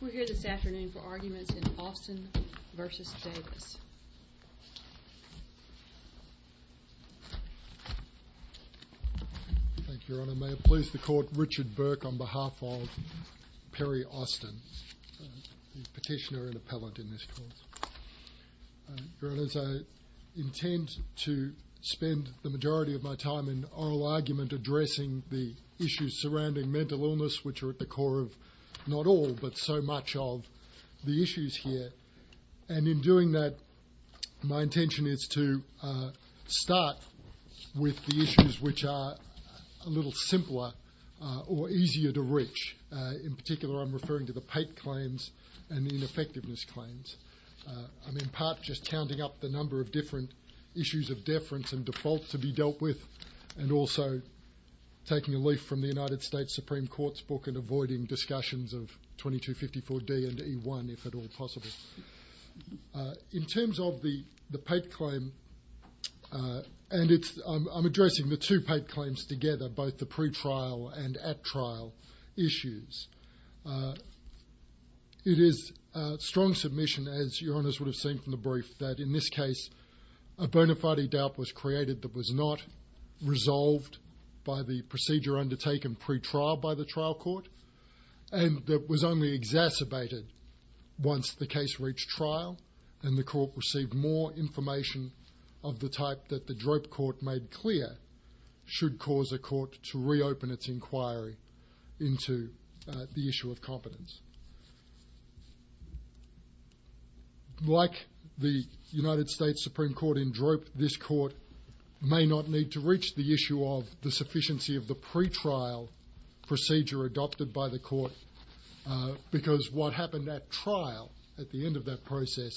We're here this afternoon for arguments in Austin v. Staggs. Thank you Your Honour. May I please the Court, Richard Burke on behalf of Perry Austin, Petitioner and Appellate in this Court. Your Honour, as I intend to spend the majority of my time in oral argument addressing the issues surrounding mental illness, which are at the core of not all but so much of the issues here. And in doing that, my intention is to start with the issues which are a little simpler or easier to reach. In particular, I'm referring to the PATE claims and the ineffectiveness claims. I'm in part just counting up the number of different issues of deference and defaults to be dealt with, and also taking a leaf from the United States Supreme Court's book and avoiding discussions of 2254 D and E1, if at all possible. In terms of the PATE claim, and I'm addressing the two PATE claims together, both the pre-trial and at-trial issues. It is a strong submission, as Your Honours would have seen from the brief, that in this case, a bona fide doubt was created that was not resolved by the procedure undertaken pre-trial by the trial court, and that was only exacerbated once the case reached trial and the court received more information of the type that the DROP Court made clear should cause a court to reopen its inquiry into the issue of competence. Like the United States Supreme Court in DROP, this court may not need to reach the issue of the sufficiency of the pre-trial procedure adopted by the court, because what happened at trial, at the end of that process,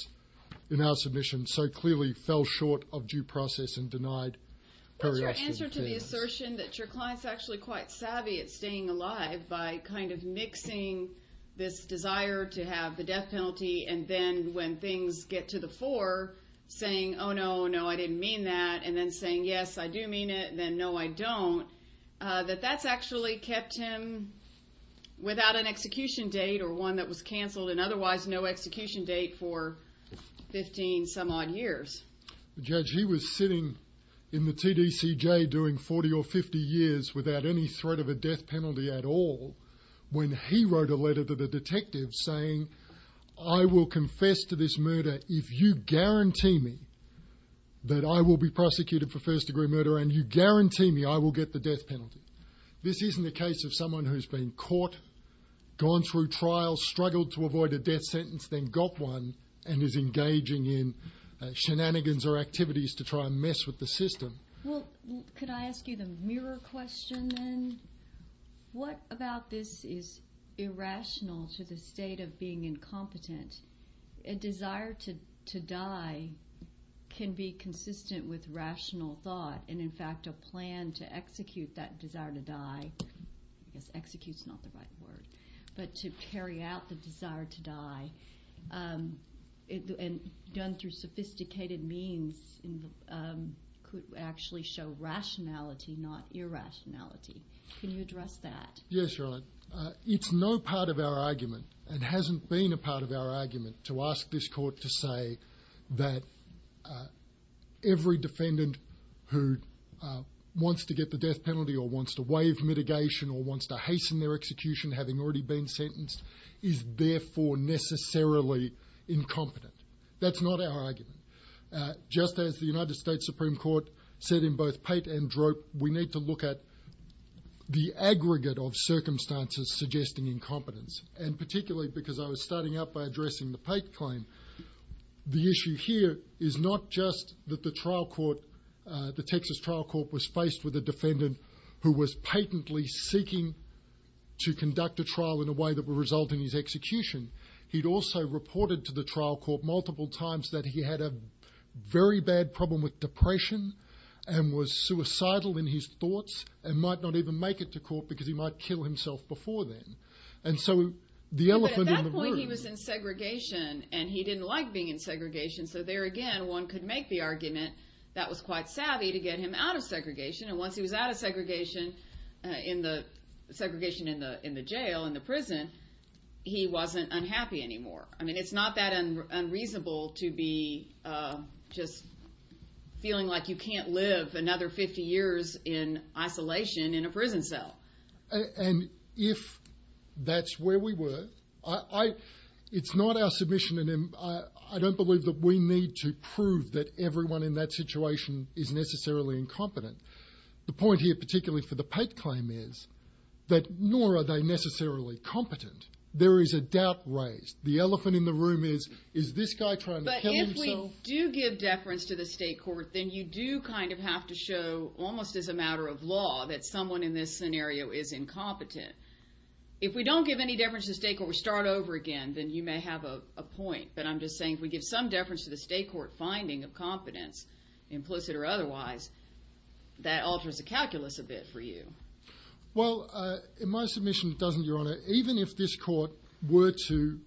in our submission, so clearly fell short of due process and denied peri-action. That's your answer to the assertion that your client's actually quite this desire to have the death penalty, and then when things get to the fore, saying, oh no, no, I didn't mean that, and then saying, yes, I do mean it, and then no, I don't, that that's actually kept him without an execution date or one that was cancelled, and otherwise no execution date for 15 some odd years. Judge, he was sitting in the TDCJ doing 40 or 50 years without any sort of a death penalty at all, when he wrote a letter to the detective saying, I will confess to this murder if you guarantee me that I will be prosecuted for first degree murder and you guarantee me I will get the death penalty. This isn't the case of someone who's been caught, gone through trial, struggled to avoid a death sentence, then got one, and is engaging in shenanigans or activities to try and mess with the system. Well, could I ask you the mirror question then? What about this is irrational to the state of being incompetent? A desire to die can be consistent with rational thought, and in fact a plan to execute that desire to die, execute's not the right word, but to carry out the desire to die, and done through sophisticated means, could actually show rationality, not irrationality. Can you address that? Yes, Your Honour. It's no part of our argument, and hasn't been a part of our argument, to ask this court to say that every defendant who wants to get the death penalty or wants to waive mitigation or wants to hasten their execution, having already been sentenced, is therefore necessarily incompetent. That's not our argument. Just as the United States Supreme Court said in both Pate and Drope, we need to look at the aggregate of circumstances suggesting incompetence, and particularly because I was starting out by addressing the Pate claim, the issue here is not just that the trial court, the Texas trial court was faced with a defendant who was patently seeking to conduct a trial in a way that would result in his execution. He'd also reported to the trial court multiple times that he had a very bad problem with depression, and was suicidal in his thoughts, and might not even make it to court because he might kill himself before then. And so the elephant in the room... But at that point he was in segregation, and he didn't like being in segregation, so there one could make the argument that was quite savvy to get him out of segregation, and once he was out of segregation in the jail, in the prison, he wasn't unhappy anymore. I mean, it's not that unreasonable to be just feeling like you can't live another 50 years in isolation in a prison cell. And if that's where we were, it's not our submission, and I don't believe we need to prove that everyone in that situation is necessarily incompetent. The point here, particularly for the Pate claim, is that nor are they necessarily competent. There is a doubt raised. The elephant in the room is, is this guy trying to kill himself? But if we do give deference to the state court, then you do kind of have to show, almost as a matter of law, that someone in this scenario is incompetent. If we don't give any deference to the state court and we start over again, then you may have a point. But I'm just wondering, if we give some deference to the state court finding of competence, implicit or otherwise, that alters the calculus a bit for you. Well, in my submission, it doesn't, Your Honor. Even if this court were to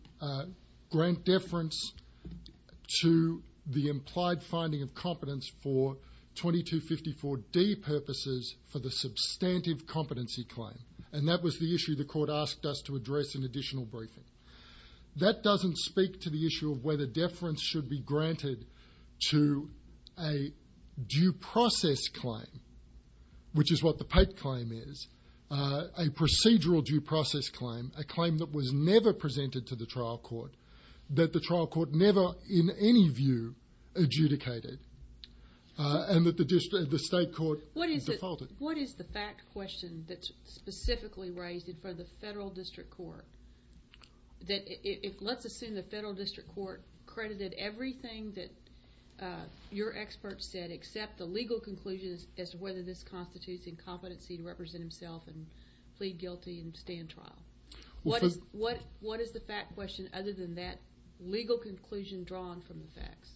grant deference to the implied finding of competence for 2254D purposes for the substantive competency claim, and that was the issue the court asked us to address in granted to a due process claim, which is what the Pate claim is, a procedural due process claim, a claim that was never presented to the trial court, that the trial court never in any view adjudicated, and that the state court defaulted. What is the fact question that's specifically raised for the federal district court? Let's assume the federal district court credited everything that your expert said except the legal conclusion as to whether this constitutes incompetency to represent himself and plead guilty and stand trial. What is the fact question other than that legal conclusion drawn from the facts?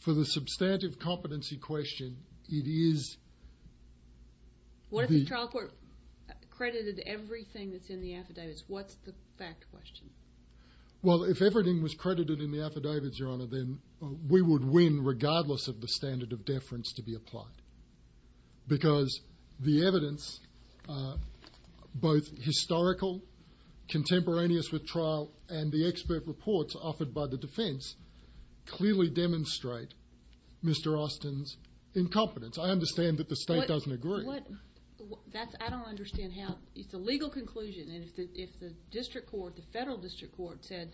For the substantive competency question, it is... What if the trial court credited everything that's in the affidavits? What's the fact question? Well, if everything was credited in the affidavits, Your Honor, then we would win regardless of the standard of deference to be applied because the evidence, both historical contemporaneous with trial and the expert reports offered by the defense, clearly demonstrate Mr. Austen's incompetence. I understand that the state doesn't agree. I don't understand how it's a legal conclusion and if the district court, the federal district court said,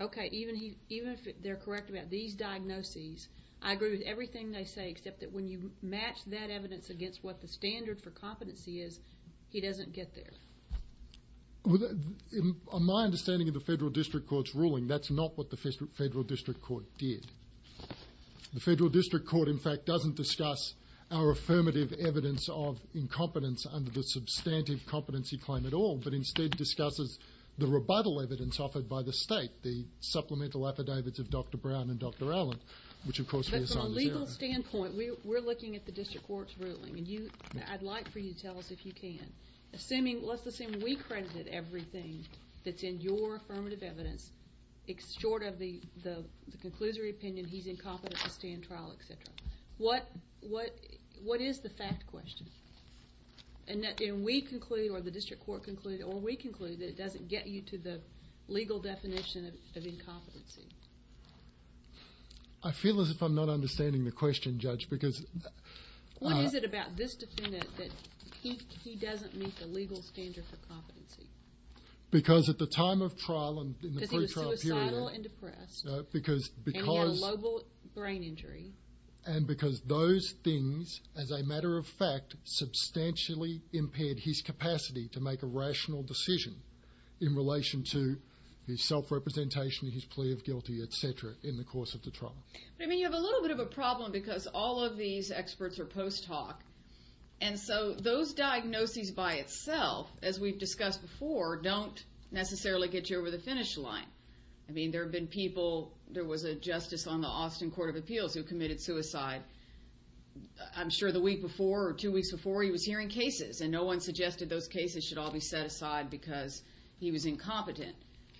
okay, even if they're correct about these diagnoses, I agree with everything they say except that when you match that evidence against what the standard for competency is, he doesn't get there. On my understanding of the federal district court's ruling, that's not what the federal district court did. The federal district court, in fact, doesn't discuss our affirmative evidence of incompetence under the substantive competency claim at all, but instead discusses the rebuttal evidence offered by the state, the supplemental affidavits of Dr. Brown and Dr. Allen, which of course... But from a legal standpoint, we're looking at the district court's ruling and you, I'd like for you to tell us if you can, assuming, let's assume we credited everything that's in your affirmative evidence, short of the the conclusory opinion, he's incompetent to stand trial, etc. What is the fact question? And we conclude, or the district court concluded, or we conclude that it doesn't get you to the legal definition of incompetency. I feel as if I'm not understanding the question, Judge, because... What is it about this defendant that he doesn't meet the legal standard for the trial period? Because... And he had a local brain injury. And because those things, as a matter of fact, substantially impaired his capacity to make a rational decision in relation to his self-representation, his plea of guilty, etc., in the course of the trial. I mean, you have a little bit of a problem because all of these experts are post hoc, and so those diagnoses by itself, as we've discussed before, don't necessarily get you the finish line. I mean, there have been people, there was a justice on the Austin Court of Appeals who committed suicide. I'm sure the week before or two weeks before, he was hearing cases, and no one suggested those cases should all be set aside because he was incompetent.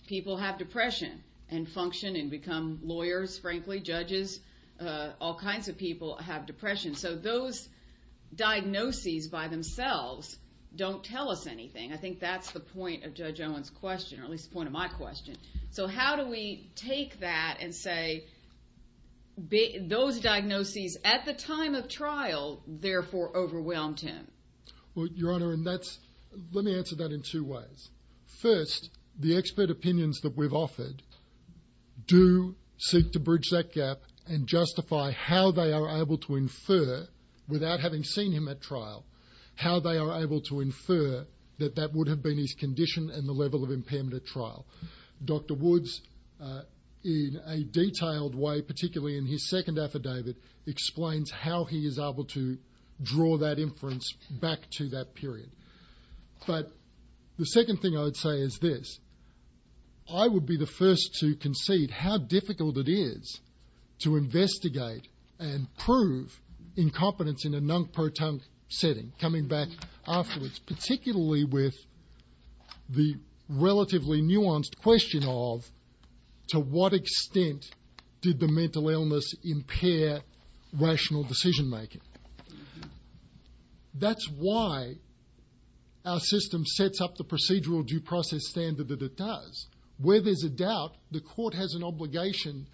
People have depression and function and become lawyers, frankly, judges, all kinds of people have depression. So those diagnoses by themselves don't tell us anything. I think that's the point of Judge Owen's question, or at least the point of my question. So how do we take that and say those diagnoses at the time of trial therefore overwhelmed him? Well, Your Honor, let me answer that in two ways. First, the expert opinions that we've offered do seek to bridge that gap and justify how they are able to infer, without having seen him at his condition and the level of impairment at trial. Dr. Woods, in a detailed way, particularly in his second affidavit, explains how he is able to draw that inference back to that period. But the second thing I would say is this. I would be the first to concede how difficult it is to investigate and prove incompetence in a non-proton setting, coming back afterwards, particularly with the relatively nuanced question of to what extent did the mental illness impair rational decision making? That's why our system sets up the procedural due process standard that it does. Where there's a doubt, the court has an obligation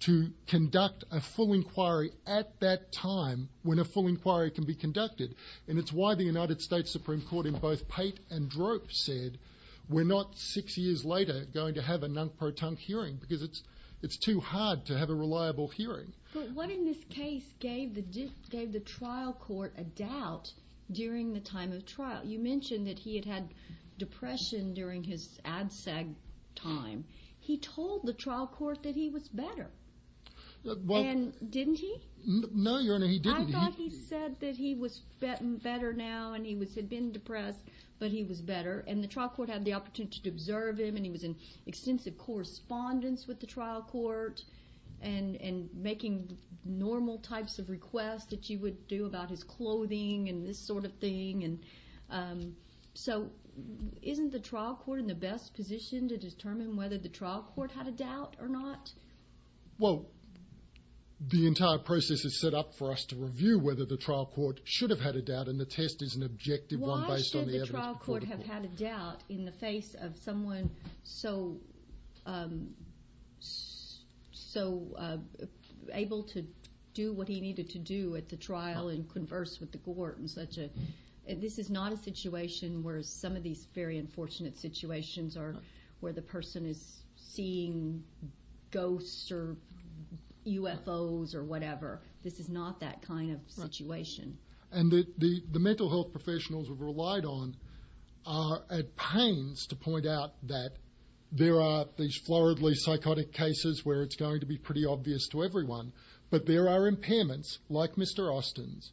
to conduct a full inquiry at that time when a full inquiry can be conducted. And it's why the United States Supreme Court in both Pate and Drope said we're not six years later going to have a non-proton hearing because it's too hard to have a reliable hearing. But what in this case gave the trial court a doubt during the time of trial? You mentioned that he had had depression during his ADSAG time. He told the trial court that he was better. Didn't he? No, Your Honor, he didn't. I thought he said that he was better now and he had been depressed but he was better. And the trial court had the opportunity to observe him and he was in extensive correspondence with the trial court and making normal types of requests that you would do about his clothing and this sort of thing. And so isn't the trial court in the best position to determine whether the trial court had a doubt or not? Well, the entire process is set up for us to review whether the trial court should have had a doubt and the test is an objective one based on the evidence. Why should the trial court have had a doubt in the face of someone so able to do what he needed to do at the trial and this is not a situation where some of these very unfortunate situations are where the person is seeing ghosts or UFOs or whatever. This is not that kind of situation. And the mental health professionals have relied on are at pains to point out that there are these floridly psychotic cases where it's going to be pretty obvious to everyone but there are impairments like Mr. Austin's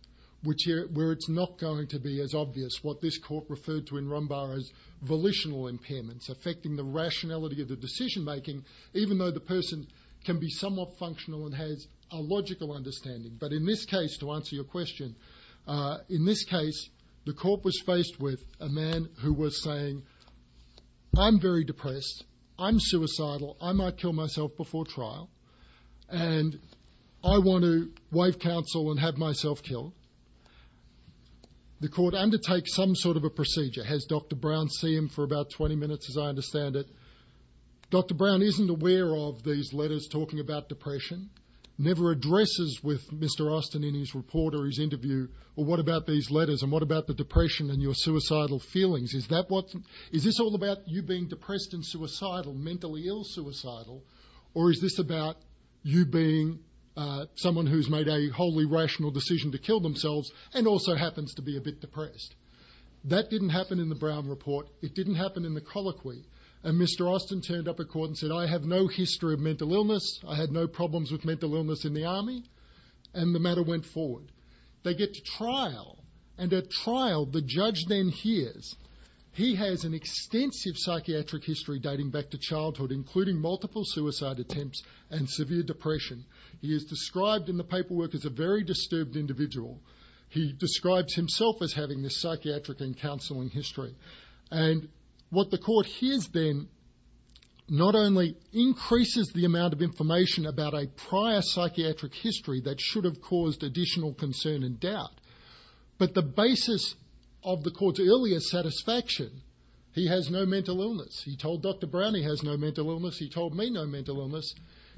where it's not going to be as obvious what this court referred to in Rhombar as volitional impairments affecting the rationality of the decision making even though the person can be somewhat functional and has a logical understanding. But in this case to answer your question, in this case the court was faced with a man who was saying I'm very depressed, I'm suicidal, I might kill myself before trial and I want to waive counsel and have myself killed. The court undertakes some sort of a procedure, has Dr. Brown see him for about 20 minutes as I understand it. Dr. Brown isn't aware of these letters talking about depression, never addresses with Mr. Austin in his report or his interview what about these letters and about the depression and suicidal feelings. Is this all about you being depressed and suicidal, mentally ill suicidal or is this about you being someone who's made a wholly rational decision to kill themselves and also happens to be a bit depressed. That didn't happen in the Brown report, it didn't happen in the colloquy and Mr. Austin turned up at court and said I have no history of mental illness, I had no problems with mental illness in the army and the matter went forward. They get to trial and at trial the judge then hears he has an extensive psychiatric history dating back to childhood including multiple suicide attempts and severe depression. He is described in the paperwork as a very disturbed individual, he describes himself as having a psychiatric and counseling history and what the court hears then not only increases the amount of concern and doubt but the basis of the court's earlier satisfaction, he has no mental illness, he told Dr. Brown he has no mental illness, he told me no mental illness,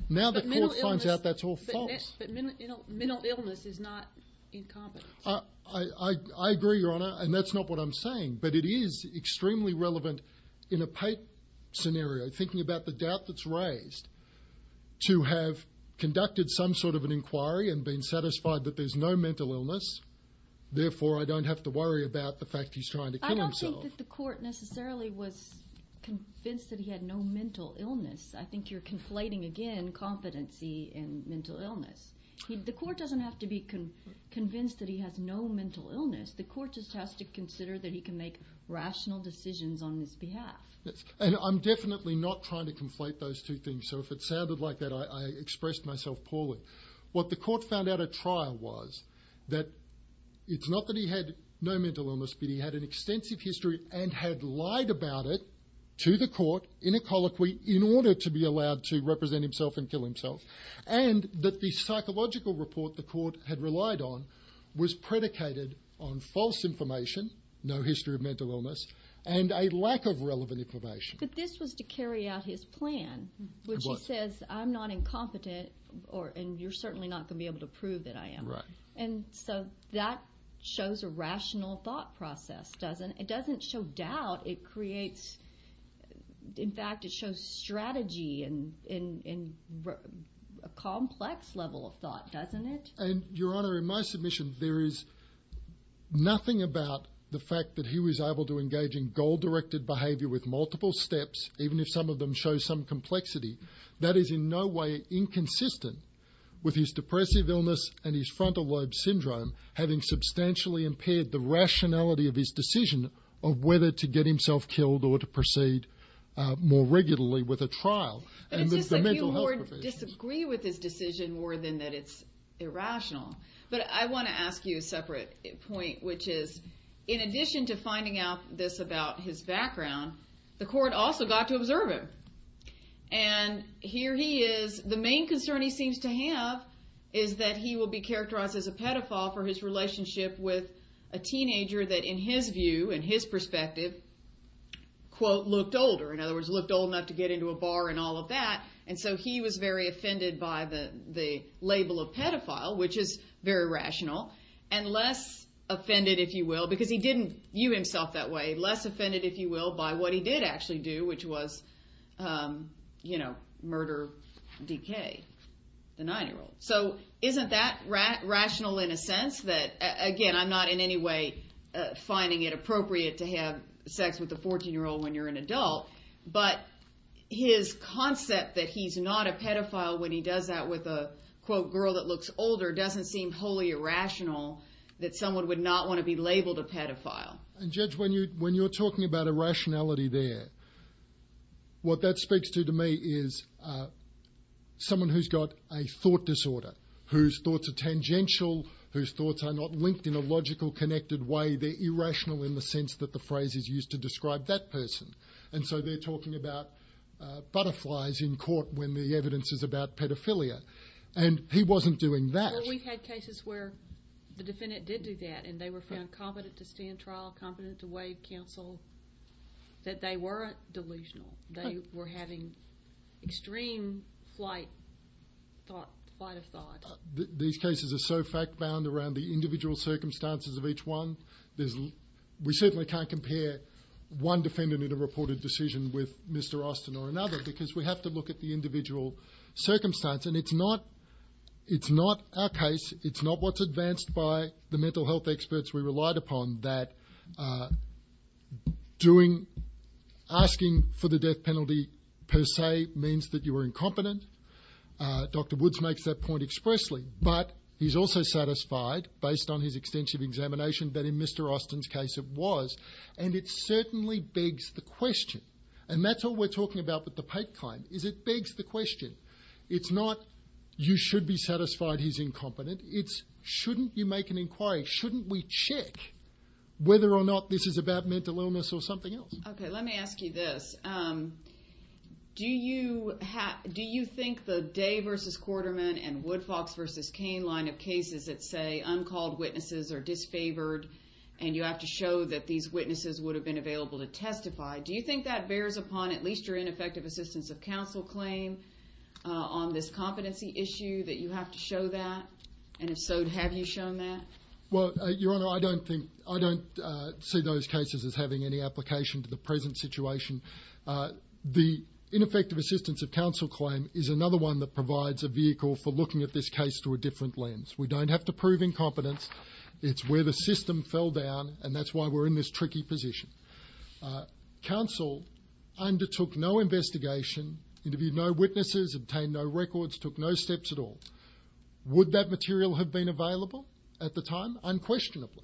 now the court finds out that's all false. Mental illness is not incompetent. I agree your honor and that's not what I'm saying but it is extremely relevant in a Pate scenario thinking about the doubt that's raised to have conducted some sort of an inquiry and been therefore I don't have to worry about the fact he's trying to kill himself. I don't think that the court necessarily was convinced that he had no mental illness, I think you're conflating again competency and mental illness. The court doesn't have to be convinced that he has no mental illness, the court just has to consider that he can make rational decisions on his behalf. And I'm definitely not trying to conflate those two things so if it sounded like that I expressed myself poorly. What the court found out at trial was that it's not that he had no mental illness but he had an extensive history and had lied about it to the court in a colloquy in order to be allowed to represent himself and kill himself and that the psychological report the court had relied on was predicated on false information, no history of mental illness and a lack of relevant information. But this was to carry out his plan which says I'm not incompetent or and you're certainly not going to be able to prove that I am. Right. And so that shows a rational thought process doesn't it? It doesn't show doubt it creates in fact it shows strategy and a complex level of thought doesn't it? And your honor in my submission there is nothing about the fact that he was able to engage in multiple steps even if some of them show some complexity that is in no way inconsistent with his depressive illness and his frontal lobe syndrome having substantially impaired the rationality of his decision of whether to get himself killed or to proceed more regularly with a trial. I disagree with this decision more than that it's irrational but I want to ask you a point which is in addition to finding out this about his background the court also got to observe him. And here he is the main concern he seems to have is that he will be characterized as a pedophile for his relationship with a teenager that in his view in his perspective quote looked older in other words looked old enough to get into a bar and all of that and so he was very offended by the label of pedophile which is very rational and less offended if you will because he didn't view himself that way less offended if you will by what he did actually do which was you know murder decay. So isn't that rational in a sense that again I'm not in any way finding it appropriate to have sex with a 14 year old when you're an adult but his concept that he's not a pedophile when he does that with a quote girl that looks older doesn't seem wholly irrational that someone would not want to be labeled a pedophile. And judge when you when you're talking about a rationality there what that speaks to to me is someone who's got a thought disorder whose thoughts are tangential whose thoughts are not linked in a logical connected way they're irrational in the sense that the phrase is used to describe that person and so they're talking about butterflies in court when the evidence is about pedophilia and he wasn't doing that. We've had cases where the defendant did do that and they were found competent to stand trial competent to waive counsel that they weren't delusional they were having extreme flight flight of thought. These cases are so fact-bound around the individual circumstances of each one there's we certainly can't compare one defendant in a reported decision with Mr Austin or another because we have to look at the individual circumstance and it's not it's not our case it's not what's advanced by the mental health experts we relied upon that doing asking for the death penalty per se means that you were incompetent. Dr Woods makes that expressly but he's also satisfied based on his extensive examination that in Mr Austin's case it was and it certainly begs the question and that's what we're talking about with the Pate claim is it begs the question it's not you should be satisfied he's incompetent it's shouldn't you make an inquiry shouldn't we check whether or not this is about mental illness or something else. Okay let me ask you this do you have do you think the Day versus Quarterman and Woodfox versus Kane line of cases that say uncalled witnesses are disfavored and you have to show that these witnesses would have been available to testify do you think that bears upon at least your ineffective assistance of counsel claims on this competency issue that you have to show that and if so have you shown that? Well your honor I don't think I don't see those cases as having any application to the present situation. The ineffective assistance of counsel claim is another one that provides a vehicle for looking at this case through a different lens we don't have to prove incompetence it's where the system fell down and that's why we're in this tricky position. Counsel undertook no investigation interviewed no witnesses obtained no records took no steps at all would that material have been available at the time unquestionably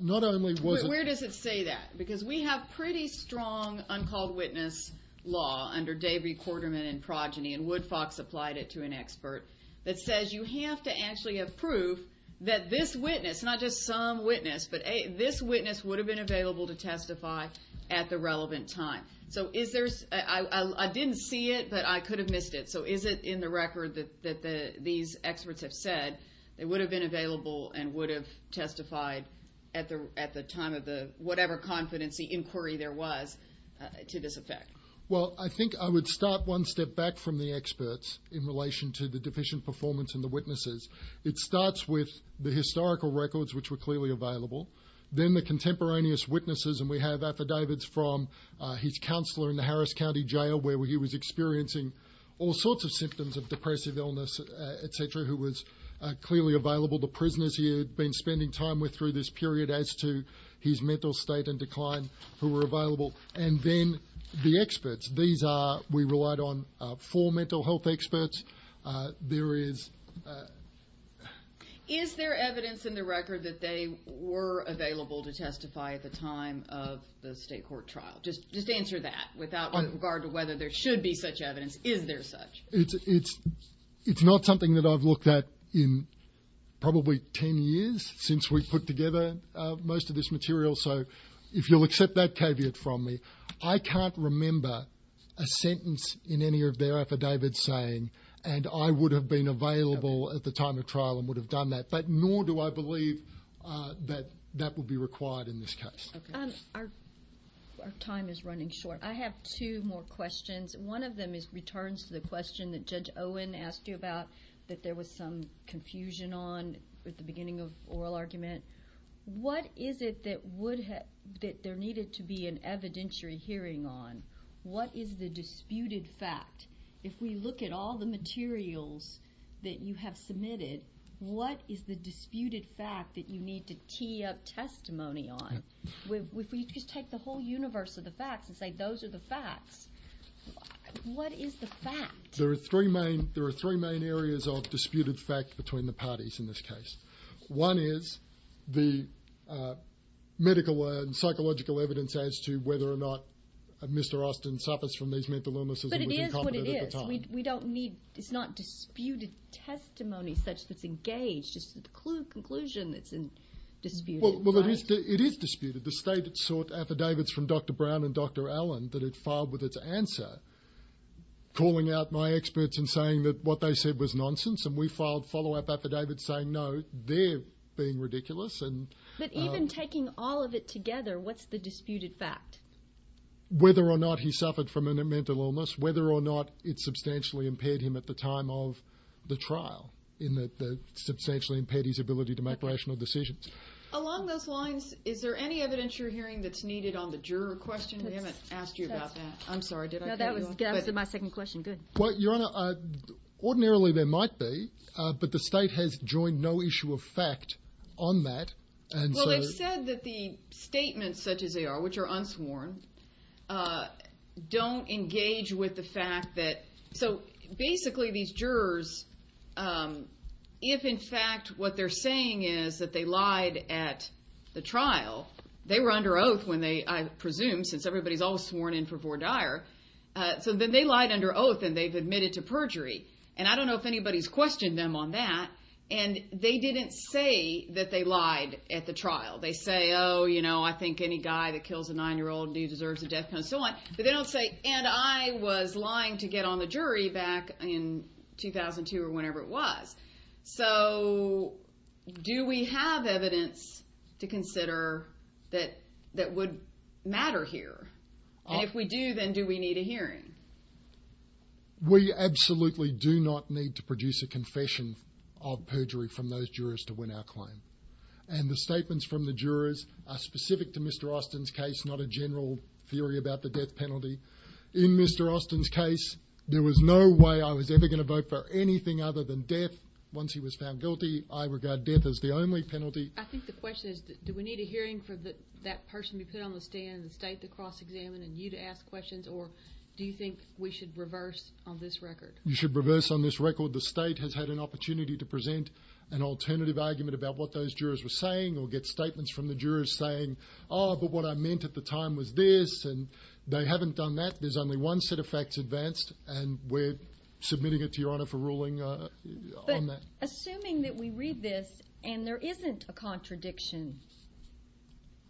not where does it say that because we have pretty strong uncalled witness law under Davy Quarterman and Progeny and Woodfox applied it to an expert that says you have to actually have proof that this witness not just some witness but a this witness would have been available to testify at the relevant time so is there's I didn't see it but I could have missed it so is it in the record that that the these experts have said it would have been available and would have testified at the at the time of the whatever confidence the inquiry there was to this effect well I think I would start one step back from the experts in relation to the deficient performance and the witnesses it starts with the historical records which were clearly available then the contemporaneous witnesses and we have affidavits from his counselor in the Harris County Jail where he was experiencing all sorts of symptoms of depressive illness etc who was clearly available the prisoners he had been spending time with through this period as to his mental state and decline who were available and then the experts these are we relied on for mental health experts there is is there evidence in the record that they were available to testify at the time of the state court trial just just answer that without regard to whether there should be such evidence is there it's it's not something that I've looked at in probably 10 years since we've put together most of this material so if you'll accept that caveat from me I can't remember a sentence in any of their affidavits saying and I would have been available at the time of trial and would have done that but nor do I believe that that would be required in this case our time is running short I have two more questions one of them is returns to the question that judge Owen asked you about that there was some confusion on at the beginning of oral argument what is it that would that there needed to be an evidentiary hearing on what is the disputed fact if we look at all the materials that you have submitted what is the disputed fact that you need to key up testimony on if we just take the whole universe of the facts and say those are the facts what is the fact there are three main there are three main areas of disputed fact between the parties in this case one is the medical and psychological evidence as to whether or not Mr. Austin suffers from these mental illnesses but it is what it is we don't need it's not disputed testimony such that's the conclusion that's in dispute well it is disputed the state that sought affidavits from Dr. Brown and Dr. Allen that it filed with its answer calling out my experts and saying that what they said was nonsense and we filed follow-up affidavits saying no they're being ridiculous and even taking all of it together what's the disputed fact whether or not he suffered from a mental illness whether or not it substantially impaired him at the time of the trial in that they substantially impaired his ability to make rational decisions along those lines is there any evidence you're hearing that's needed on the juror questions i haven't asked you about that i'm sorry did i that was my second question good what your honor uh ordinarily there might be uh but the state has joined no issue of fact on that and well they said that the statements such as they are which are unsworn uh don't engage with the fact that so basically these jurors um if in fact what they're saying is that they lied at the trial they were under oath when they i presume since everybody's all sworn in for vore dire uh so then they lied under oath and they've admitted to perjury and i don't know if anybody's questioned them on that and they didn't say that they lied at the trial they say oh you know i think any guy that kills a nine-year-old dude deserves a death penalty so on so they don't and i was lying to get on the jury back in 2002 or whenever it was so do we have evidence to consider that that would matter here and if we do then do we need a hearing we absolutely do not need to produce a confession of perjury from those jurors to win our claim and the statements from the jurors are specific to mr austin's case not a general theory about the death penalty in mr austin's case there was no way i was ever going to vote for anything other than death once he was found guilty i regard death as the only penalty i think the question is do we need a hearing for the that person who could understand the state to cross examine and you to ask questions or do you think we should reverse on this record you should reverse on this record the state has had an opportunity to present an alternative argument about what those jurors were saying or get statements from the jurors saying oh but what i meant at the time was this and they haven't done that there's only one set of facts advanced and we're submitting it to your honor for ruling uh on that assuming that we read this and there isn't a contradiction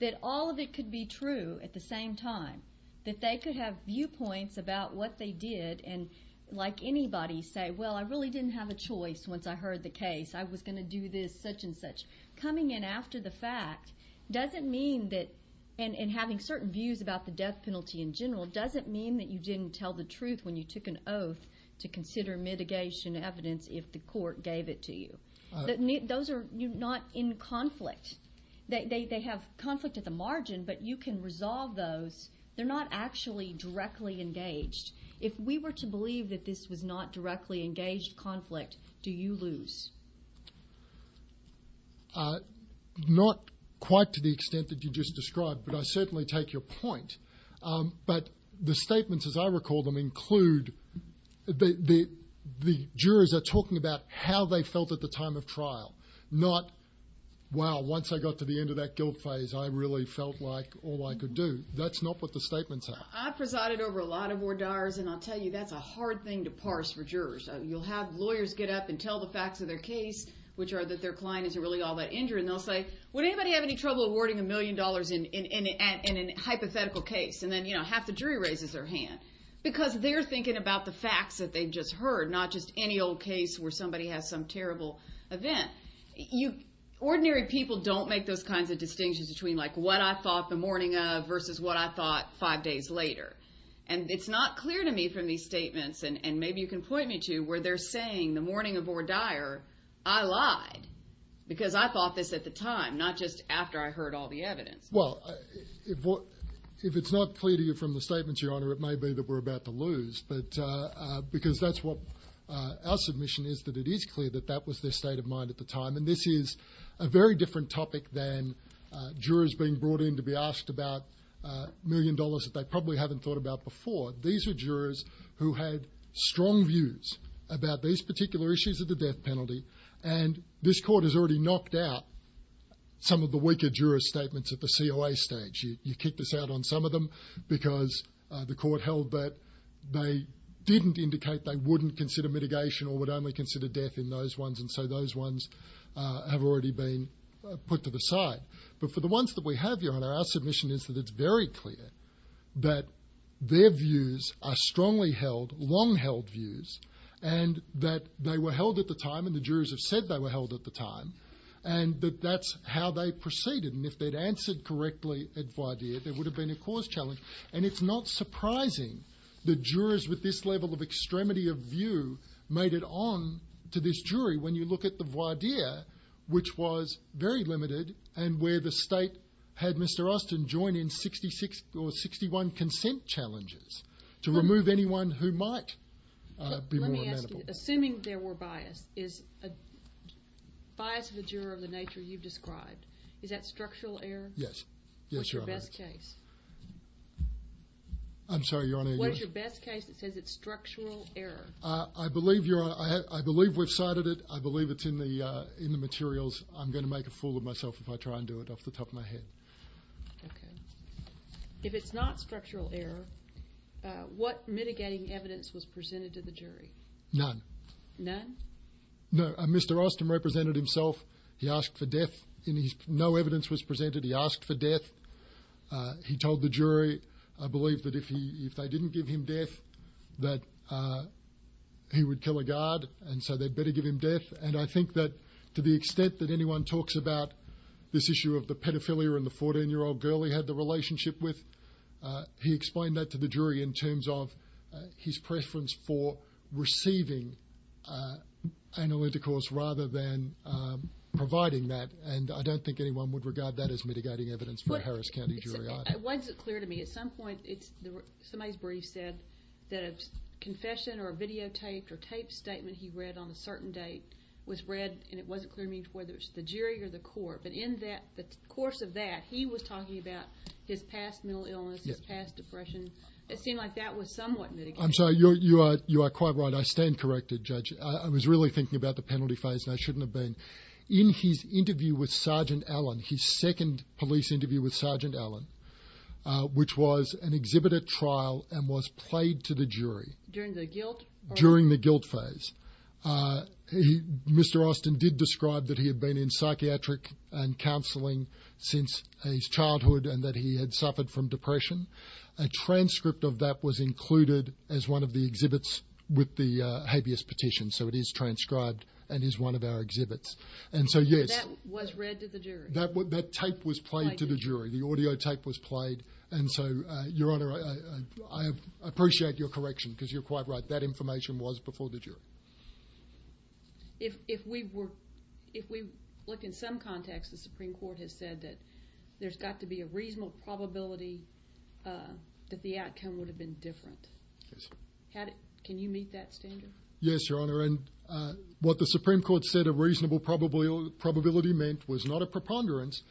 that all of it could be true at the same time that they could have viewpoints about what they did and like anybody say well i really didn't have a choice once i heard the case i was going to do this such and such coming in after the fact doesn't mean that and having certain views about the death penalty in general doesn't mean that you didn't tell the truth when you took an oath to consider mitigation evidence if the court gave it to you but those are not in conflict they they have conflict at the margin but you can resolve those they're not actually directly engaged if we were to believe that this was not directly engaged conflict do you lose uh not quite to the extent that you just described but i certainly take your point um but the statements as i recall them include the the jurors are talking about how they felt at the time of trial not wow once i got to the end of that guilt phase i really felt like all i could do that's not what the statements are i've presided over a lot of war diars and i'll tell you that's a hard thing to parse for jurors you'll have lawyers get up and tell the facts of their case which are that their client isn't really all that injured and they'll say would anybody have any trouble awarding a million dollars in in an hypothetical case and then you know half the jury raises their hands because they're thinking about the facts that they've just heard not just any old case where somebody has some terrible event you ordinary people don't make those kinds of distinctions between like what i thought the morning of versus what i thought five days later and it's not clear to me from these statements and and maybe you can point me to where they're saying the morning of or dire i lied because i thought this at the time not just after i heard all the evidence well if what if it's not clear to you from the statements your honor it may be that we're about to lose but uh because that's what uh our submission is that it is clear that that was the state of mind at the time and this is a very different topic than uh jurors being brought in to be asked about a million dollars that they probably haven't thought about before these are jurors who had strong views about these particular issues of the death penalty and this court has already knocked out some of the weaker juror statements at the coa stage you kicked this out on some of them because the court held that they didn't indicate they wouldn't consider mitigation or would only consider death in those ones and so those ones uh have already been put to the side but for the ones that we have your honor our submission is that it's very clear that their views are strongly held long held views and that they were held at the time and the jurors have said they were held at the time and that that's how they proceeded and if they'd answered correctly at the idea there would have been a cause challenge and it's not surprising the jurors with this level of extremity of view made it on to this jury when you look at the 61 consent challenges to remove anyone who might uh assuming there were bias is a bias of the juror of the nature you've described is that structural error yes yes your best case i'm sorry your honor what's your best case it says it's structural error uh i believe your i i believe we've cited it i believe it's in the uh in the materials i'm going to make a fool of myself if i try and do it off the top of my head okay if it's not structural error uh what mitigating evidence was presented to the jury none none no mr austin represented himself he asked for death and he's no evidence was presented he asked for death uh he told the jury i believe that if he if they didn't give him death that uh he would tell a guard and so they'd better give him death and i think that to the extent that anyone talks about this issue of the pedophilia and the 14 year old girl he had the relationship with uh he explained that to the jury in terms of his preference for receiving uh analyticals rather than um providing that and i don't think anyone would regard that as mitigating evidence for harris county jury i wasn't clear to me at some point it's somebody's brief said that confession or videotaped or taped statement he read on a certain date was read and it wasn't clear to me whether it's the jury or the court but in that the course of that he was talking about his past mental illness his past depression i think like that was somewhat mitigating i'm sorry you're you are you are quite right i stand corrected judge i was really thinking about the penalty phase and i shouldn't have been in his interview with sergeant allen his second police interview with sergeant allen uh which was an exhibited trial and was played to jury during the guilt during the guilt phase uh he mr austin did describe that he had been in psychiatric and counseling since his childhood and that he had suffered from depression a transcript of that was included as one of the exhibits with the habeas petition so it is transcribed and is one of our exhibits and so yes that was read to the jury that tape was played to the jury the appreciate your correction because you're quite right that information was before the jury if if we were if we look in some context the supreme court has said that there's got to be a reasonable probability uh that the outcome would have been different can you meet that standard yes your honor and uh what the supreme court said a reasonable probability probability meant was not a preponderance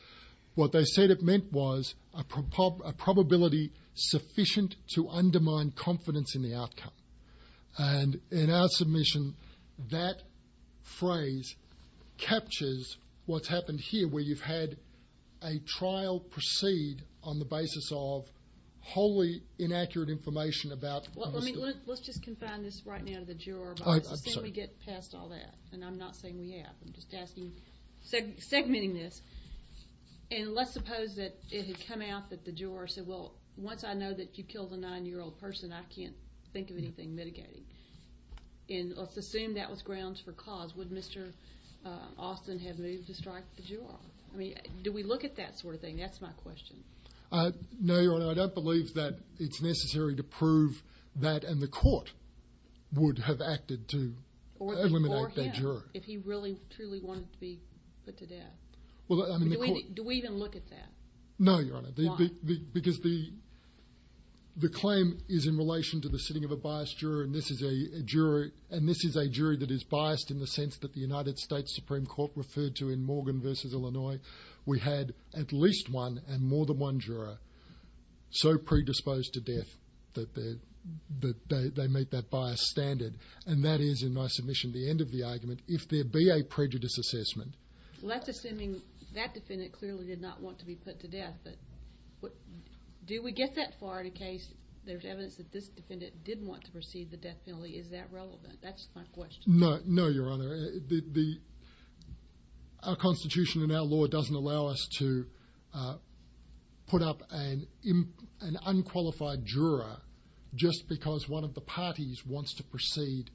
what they said it meant was a probability sufficient to undermine confidence in the outcome and in our submission that phrase captures what's happened here where you've had a trial proceed on the basis of wholly inaccurate information about let's just confine this right now that you're past all that and i'm not saying yeah i'm just asking segmenting this and let's suppose that it had come out that the juror said well once i know that you killed a nine-year-old person i can't think of anything mitigating and let's assume that was grounds for cause would mr austin have moved to strike the juror i mean do we look at that sort of thing that's my question uh no your honor i don't believe that it's necessary to prove that and the court would have acted to eliminate the juror if he really truly wanted to be put to death well do we even look at that no your honor because the the claim is in relation to the sitting of a biased juror and this is a jury and this is a jury that is biased in the sense that the united states supreme court referred to in morgan versus illinois we had at least one and more than one juror so predisposed to death that they're that they make that by a standard and that is in my submission the end of the argument if there be a prejudice assessment less assuming that defendant clearly did not want to be put to death but do we get that far in a case there's evidence that this defendant didn't want to proceed the death penalty is that relevant that's my question no no your honor the our constitution and our law doesn't allow us to put up an an unqualified juror just because one of the parties wants to proceed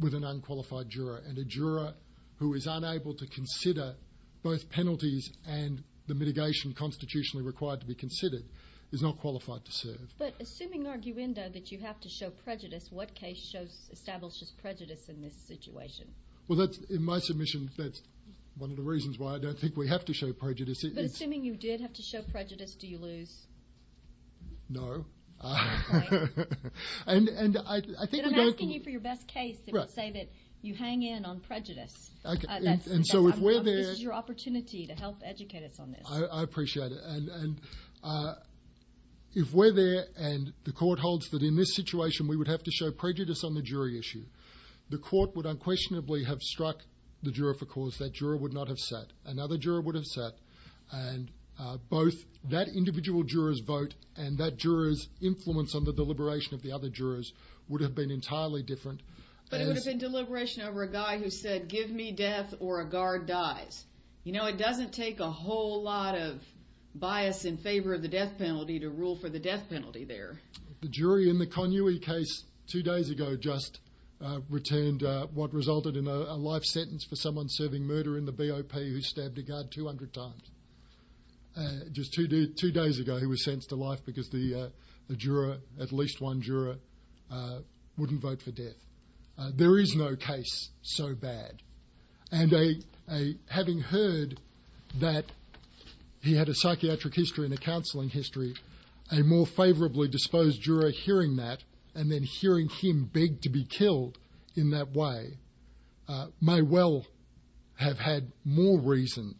with an unqualified juror and a juror who is unable to consider both penalties and the mitigation constitutionally required to be considered is not qualified to serve but assuming you have to show prejudice what case shows establishes prejudice in this situation well that's in my submissions that's one of the reasons why i don't think we have to show prejudice but assuming you did have to show prejudice do you lose no and and i think i'm asking you for your best case say that you hang in on prejudice okay and so if we're there this is your opportunity to situation we would have to show prejudice on the jury issue the court would unquestionably have struck the juror for cause that juror would not have sat another juror would have sat and both that individual jurors vote and that jurors influence on the deliberation of the other jurors would have been entirely different but it would have been deliberation over a guy who said give me death or a guard dies you know it doesn't take a whole lot of bias in favor of the death penalty to rule for the death penalty there the jury in the con ue case two days ago just uh returned uh what resulted in a life sentence for someone serving murder in the bop who stabbed the guard 200 times and just two days two days ago he was sent to life because the uh the juror at least one juror uh wouldn't vote for death there is no case so bad and a a having heard that he had a psychiatric history and a counseling history a more favorably disposed juror hearing that and then hearing him beg to be killed in that way uh may well have had more reason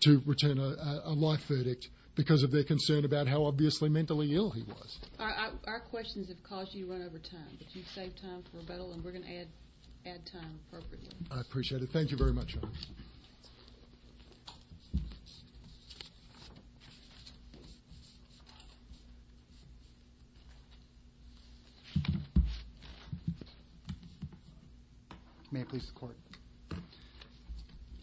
to return a life verdict because of their concern about how obviously mentally ill he was our questions have caused you run over time if you save time for a better one we're going to add add time appropriately i appreciate it thank you very much may i please support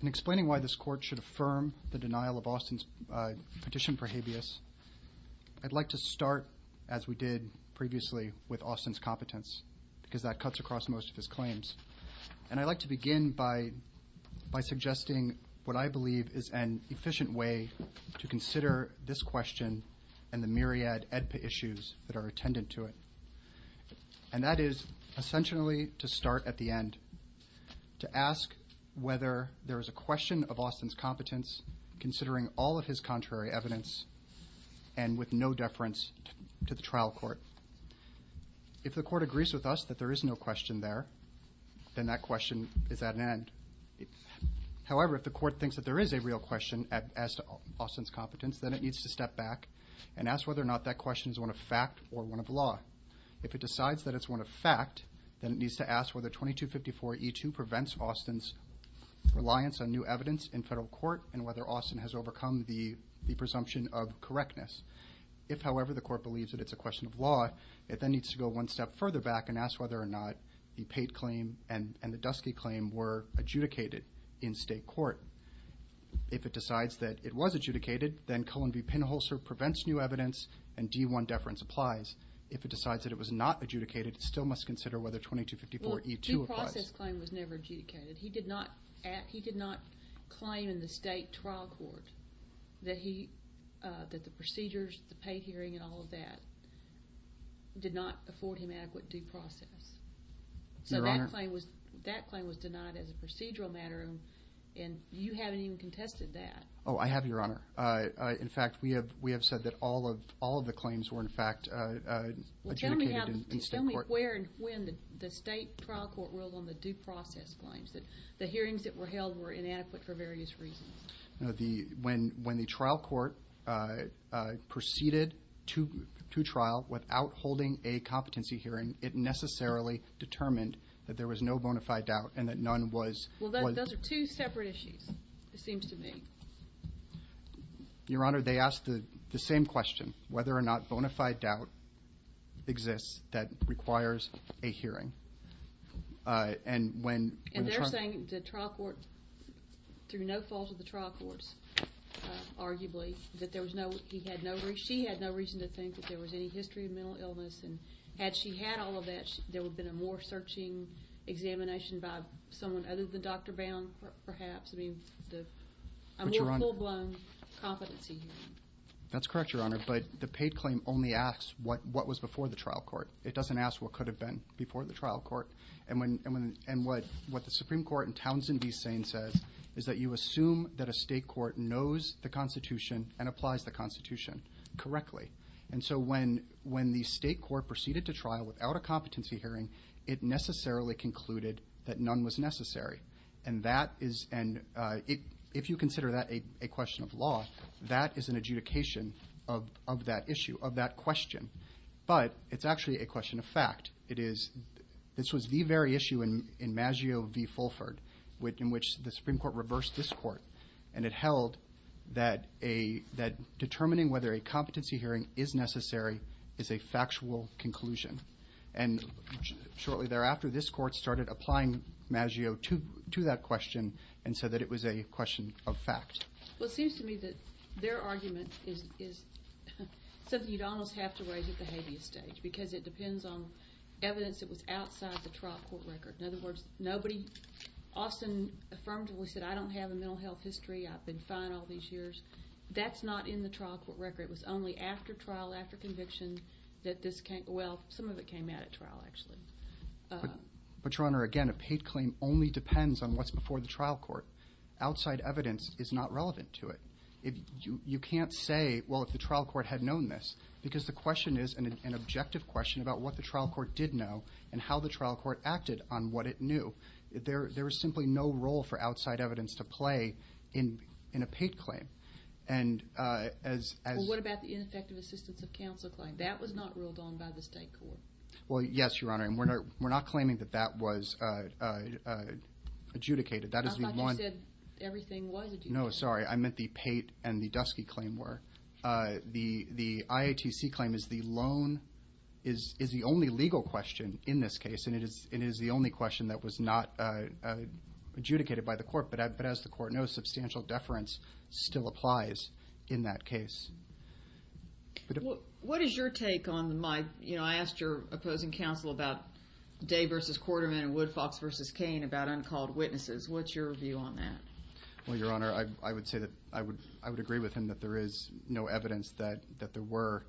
in explaining why this court should affirm the denial of austin's uh petition for habeas i'd like to start as we did previously with austin's competence because that cuts across most of his claims and i'd like to begin by by suggesting what i believe is an efficient way to consider this question and the myriad edpa issues that are attendant to it and that is essentially to start at the end to ask whether there is a question of austin's competence considering all of his contrary evidence and with no deference to the trial court if the court agrees with us that there is no question there then that question is at an end however if the court thinks that there is a real question at as austin's competence then it needs to step back and ask whether or not that question is one of fact or one of law if it decides that it's one of fact then it needs to ask whether 2254e2 prevents austin's reliance on new evidence in federal court and whether austin has overcome the presumption of correctness if however the it then needs to go one step further back and ask whether or not the paid claim and and the dusky claim were adjudicated in state court if it decides that it was adjudicated then cullen v pinholzer prevents new evidence and d1 deference applies if it decides that it was not adjudicated still must consider whether 2254e2 was never adjudicated he did not at he did not claim in the state trial court that he uh that the procedures the pay hearing and all that did not afford him adequate due process so that claim was that claim was denied as a procedural matter and you haven't even contested that oh i have your honor uh in fact we have we have said that all of all of the claims were in fact uh uh where and when the state trial court was on the due process claims that the hearings that were held were inadequate for various reasons you know the when when the trial court uh uh proceeded to to trial without holding a competency hearing it necessarily determined that there was no bona fide doubt and that none was well those are two separate issues it seems to me your honor they asked the same question whether or not bona fide doubt exists that requires a hearing uh and when and they're saying the trial court through no fault of the trial courts arguably that there was no he had no she had no reason to think that there was any history of mental illness and had she had all of that there would have been a more searching examination by someone other than dr bound perhaps i mean the i'm here full-blown competency hearing that's correct your honor but the paid claim only asks what what was before the trial court it doesn't ask what could have been before the trial court and when and when and what what the supreme court in townsend be saying says is that you assume that a state court knows the constitution and applies the constitution correctly and so when when the state court proceeded to trial without a competency hearing it necessarily concluded that none was necessary and that is and uh it if you consider that a question of law that is an adjudication of of that issue of that question but it's actually a question of fact it is this was the very issue in in maggio v fulford which in which the supreme court reversed this court and it held that a that determining whether a competency hearing is necessary is a factual conclusion and shortly thereafter this court started applying maggio to to that question and said that it was a question of fact what seems to me that their argument is something you'd almost have to raise at the habeas stage because it depends on evidence it was outside the trial court record in other words nobody often affirmed we said i don't have a mental health history i've been fine all these years that's not in the trial court record it was only after trial after conviction that this came well some of it came out at trial actually but your honor again a paid claim only depends on what's before the trial court outside evidence is not relevant to it if you you can't say well if the trial court had known this because the question is an objective question about what the trial court did know and how the trial court acted on what it knew there there was simply no role for outside evidence to play in in a paid claim and uh as as what about the inspective assistance of counsel claim that was not ruled on by the state court well yes your honor and we're not we're not claiming that that was uh uh adjudicated that is one everything was no sorry i meant the pate and the dusky claim were uh the the iatc claim is the loan is is the only legal question in this case and it is it is the only question that was not uh adjudicated by the court but as the court knows substantial deference still applies in that case what is your take on my you know i asked your opposing counsel about day versus quarterman and woodfox versus kane about uncalled witnesses what's your view on that well your honor i i would say that i would i would agree with him that there is no evidence that that there were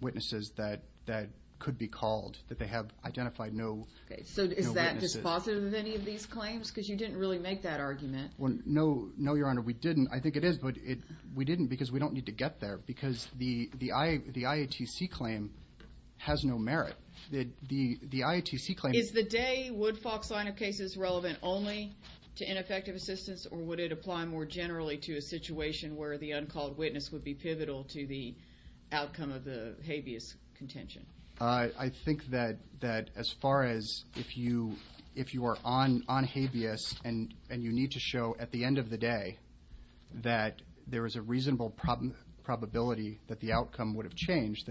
witnesses that that could be called that they have identified no okay so is that just positive of any of these claims because you didn't really make that argument well no no your honor we didn't i think it is but it we didn't because we don't need to get there because the the i the iatc claim has no merit that the the iatc claim is the day would fox line of cases relevant only to ineffective assistance or would it apply more generally to a situation where the uncalled witness would be pivotal to the outcome of the habeas contention i i think that that as far as if you if you are on on habeas and and you need to show at the end of the day that there is a then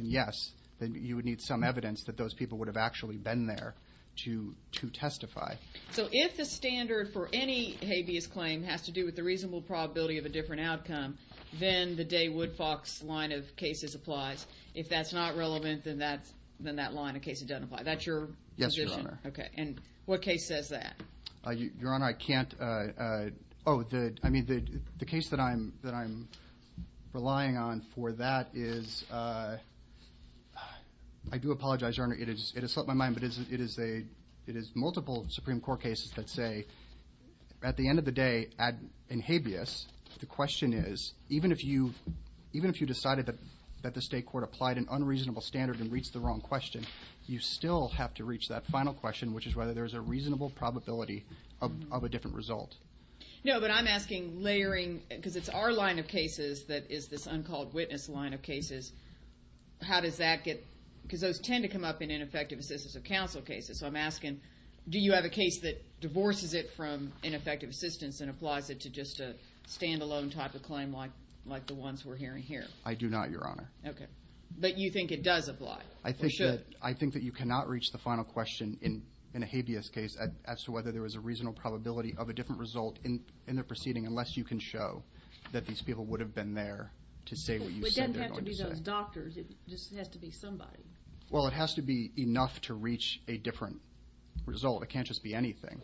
yes then you would need some evidence that those people would have actually been there to to testify so if the standard for any habeas claim has to do with the reasonable probability of a different outcome then the day would fox line of cases applies if that's not relevant then that's then that line of case identified that's your yes your honor okay and what case uh your honor i can't uh uh oh the i mean the the case that i'm that i'm relying on for that is uh i do apologize your honor it is it has slipped my mind but it isn't it is a it is multiple supreme court cases that say at the end of the day at in habeas the question is even if you even if you decided that that the state court applied an unreasonable standard and reached the wrong question you still have to reach that final question which is whether there's a reasonable probability of a different result no but i'm asking layering because it's our line of cases that is this uncalled witness line of cases how does that get because those tend to come up in ineffective assistance of counsel cases i'm asking do you have a case that divorces it from ineffective assistance and applies it to just a standalone type of claim like like the ones we're hearing here i do not your honor okay but you think it does apply i i think that you cannot reach the final question in in a habeas case as to whether there was a reasonable probability of a different result in in the proceeding unless you can show that these people would have been there to say what you said it doesn't have to be those doctors it just has to be somebody well it has to be enough to reach a different result it can't just be anything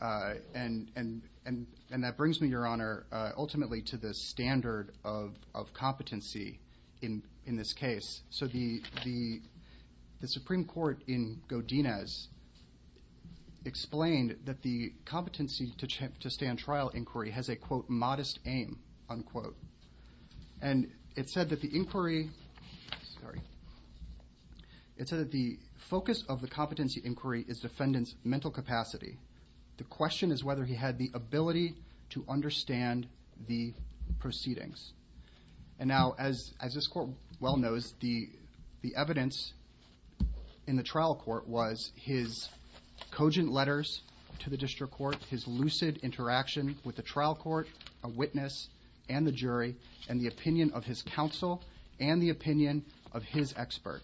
uh and and and and that brings me your honor uh ultimately to the standard of of competency in in this case so the the the supreme court in godinez explained that the competency to check to stand trial inquiry has a quote modest aim unquote and it said that the inquiry sorry it said that the focus of the competency inquiry is defendant's mental capacity the question is whether he had the ability to understand the proceedings and now as as this court well knows the the evidence in the trial court was his cogent letters to the district court his lucid interaction with the trial court a witness and the jury and the opinion of his counsel and the opinion of his expert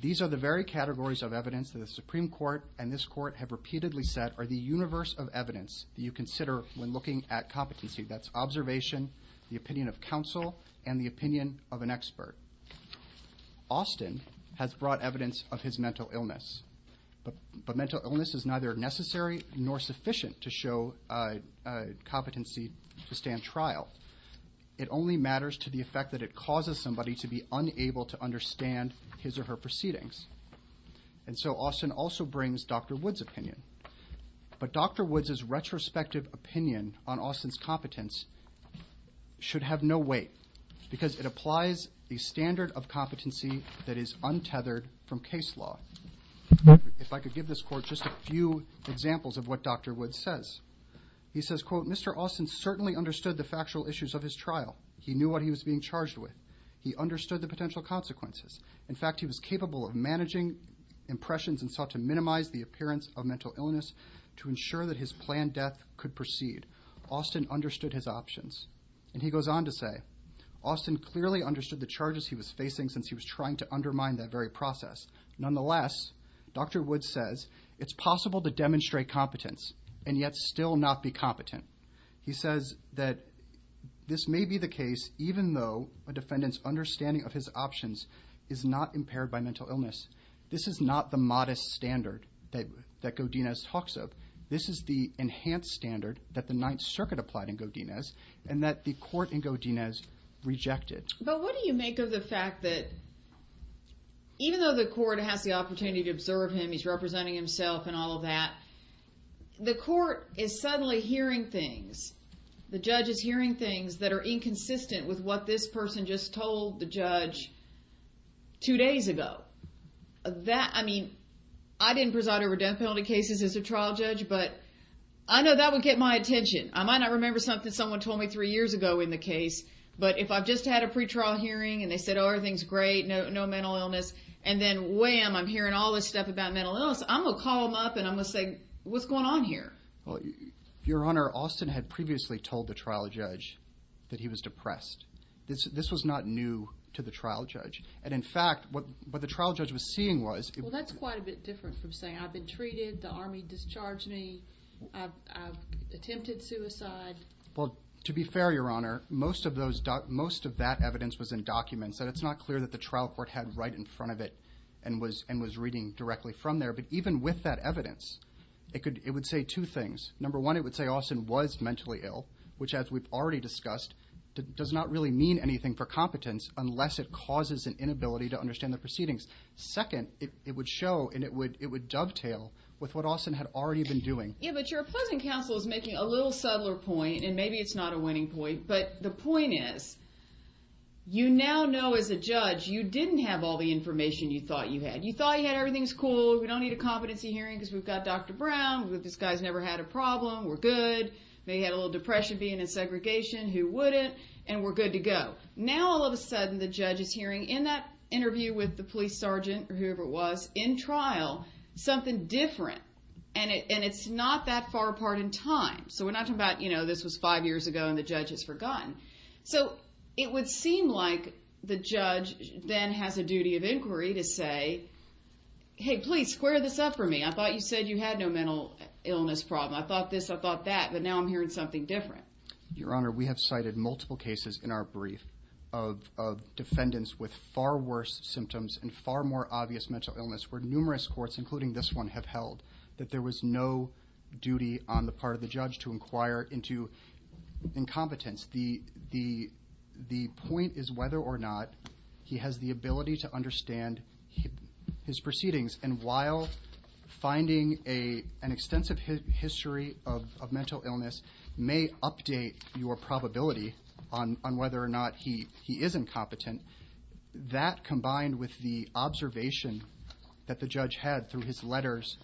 these are the very categories of evidence that the supreme court and this court have repeatedly set are the universe of evidence you consider when looking at competency that's observation the opinion of counsel and the opinion of an expert austin has brought evidence of his mental illness but mental illness is neither necessary nor sufficient to show uh competency to stand trial it only matters to the effect that it causes somebody to be unable to understand his or her proceedings and so austin also brings dr wood's opinion but dr woods's retrospective opinion on austin's competence should have no weight because it applies the standard of competency that is untethered from case law if i could give this court just a few examples of what dr wood says he says quote mr austin certainly understood the factual issues of his trial he knew what he was being charged with he understood the potential consequences in fact he was capable of managing impressions and sought to minimize the appearance of mental illness to ensure that his planned death could proceed austin understood his options and he goes on to say austin clearly understood the charges he was facing since he was trying to undermine that very process nonetheless dr wood says it's possible to demonstrate competence and yet still not be competent he says that this may be the case even though a defendant's understanding of his options is not impaired by mental illness this is not the modest standard that godinez talks of this is the enhanced standard that the ninth circuit applied in godinez and that the court in godinez rejected but what do you make of the fact that even though the court has the opportunity to observe him he's representing himself and all that the court is suddenly hearing things the judge is hearing things that are inconsistent with what this person just told the judge two days ago that i mean i didn't preside over death penalty cases as a trial judge but i know that would get my attention i might not remember something someone told me three years ago in the case but if i've just had a pre-trial hearing and they said oh everything's great no mental illness and then wham i'm hearing all this stuff about mental illness i'm gonna call them up and i'm gonna say what's going on here well your honor austin had previously told the trial judge that he was depressed this was not new to the trial judge and in fact what what the trial judge was seeing was well that's quite a bit different from saying i've been treated the army discharged me i've attempted suicide well to be fair your honor most of those most of that evidence was in documents that it's not clear that the trial court had right in front of it and was and was reading directly from there but even with that number one it would say austin was mentally ill which as we've already discussed that does not really mean anything for competence unless it causes an inability to understand the proceedings second it would show and it would it would dovetail with what austin had already been doing yeah but your opposing counsel is making a little subtler point and maybe it's not a winning point but the point is you now know as a judge you didn't have all the information you thought you had you thought you had everything's cool we don't need a competency hearing because we've got dr a problem we're good they had a little depression being in segregation who wouldn't and we're good to go now all of a sudden the judge is hearing in that interview with the police sergeant or whoever it was in trial something different and it and it's not that far apart in time so we're not talking about you know this was five years ago and the judge has forgotten so it would seem like the judge then has a duty of inquiry to say hey please square this up for me i thought you said you had a mental illness problem i thought this i thought that but now i'm hearing something different your honor we have cited multiple cases in our brief of of defendants with far worse symptoms and far more obvious mental illness where numerous courts including this one have held that there was no duty on the part of the judge to inquire into incompetence the the the point is whether or not he has the ability to understand his proceedings and while finding a an extensive history of mental illness may update your probability on on whether or not he he is incompetent that combined with the observation that the judge had through his letters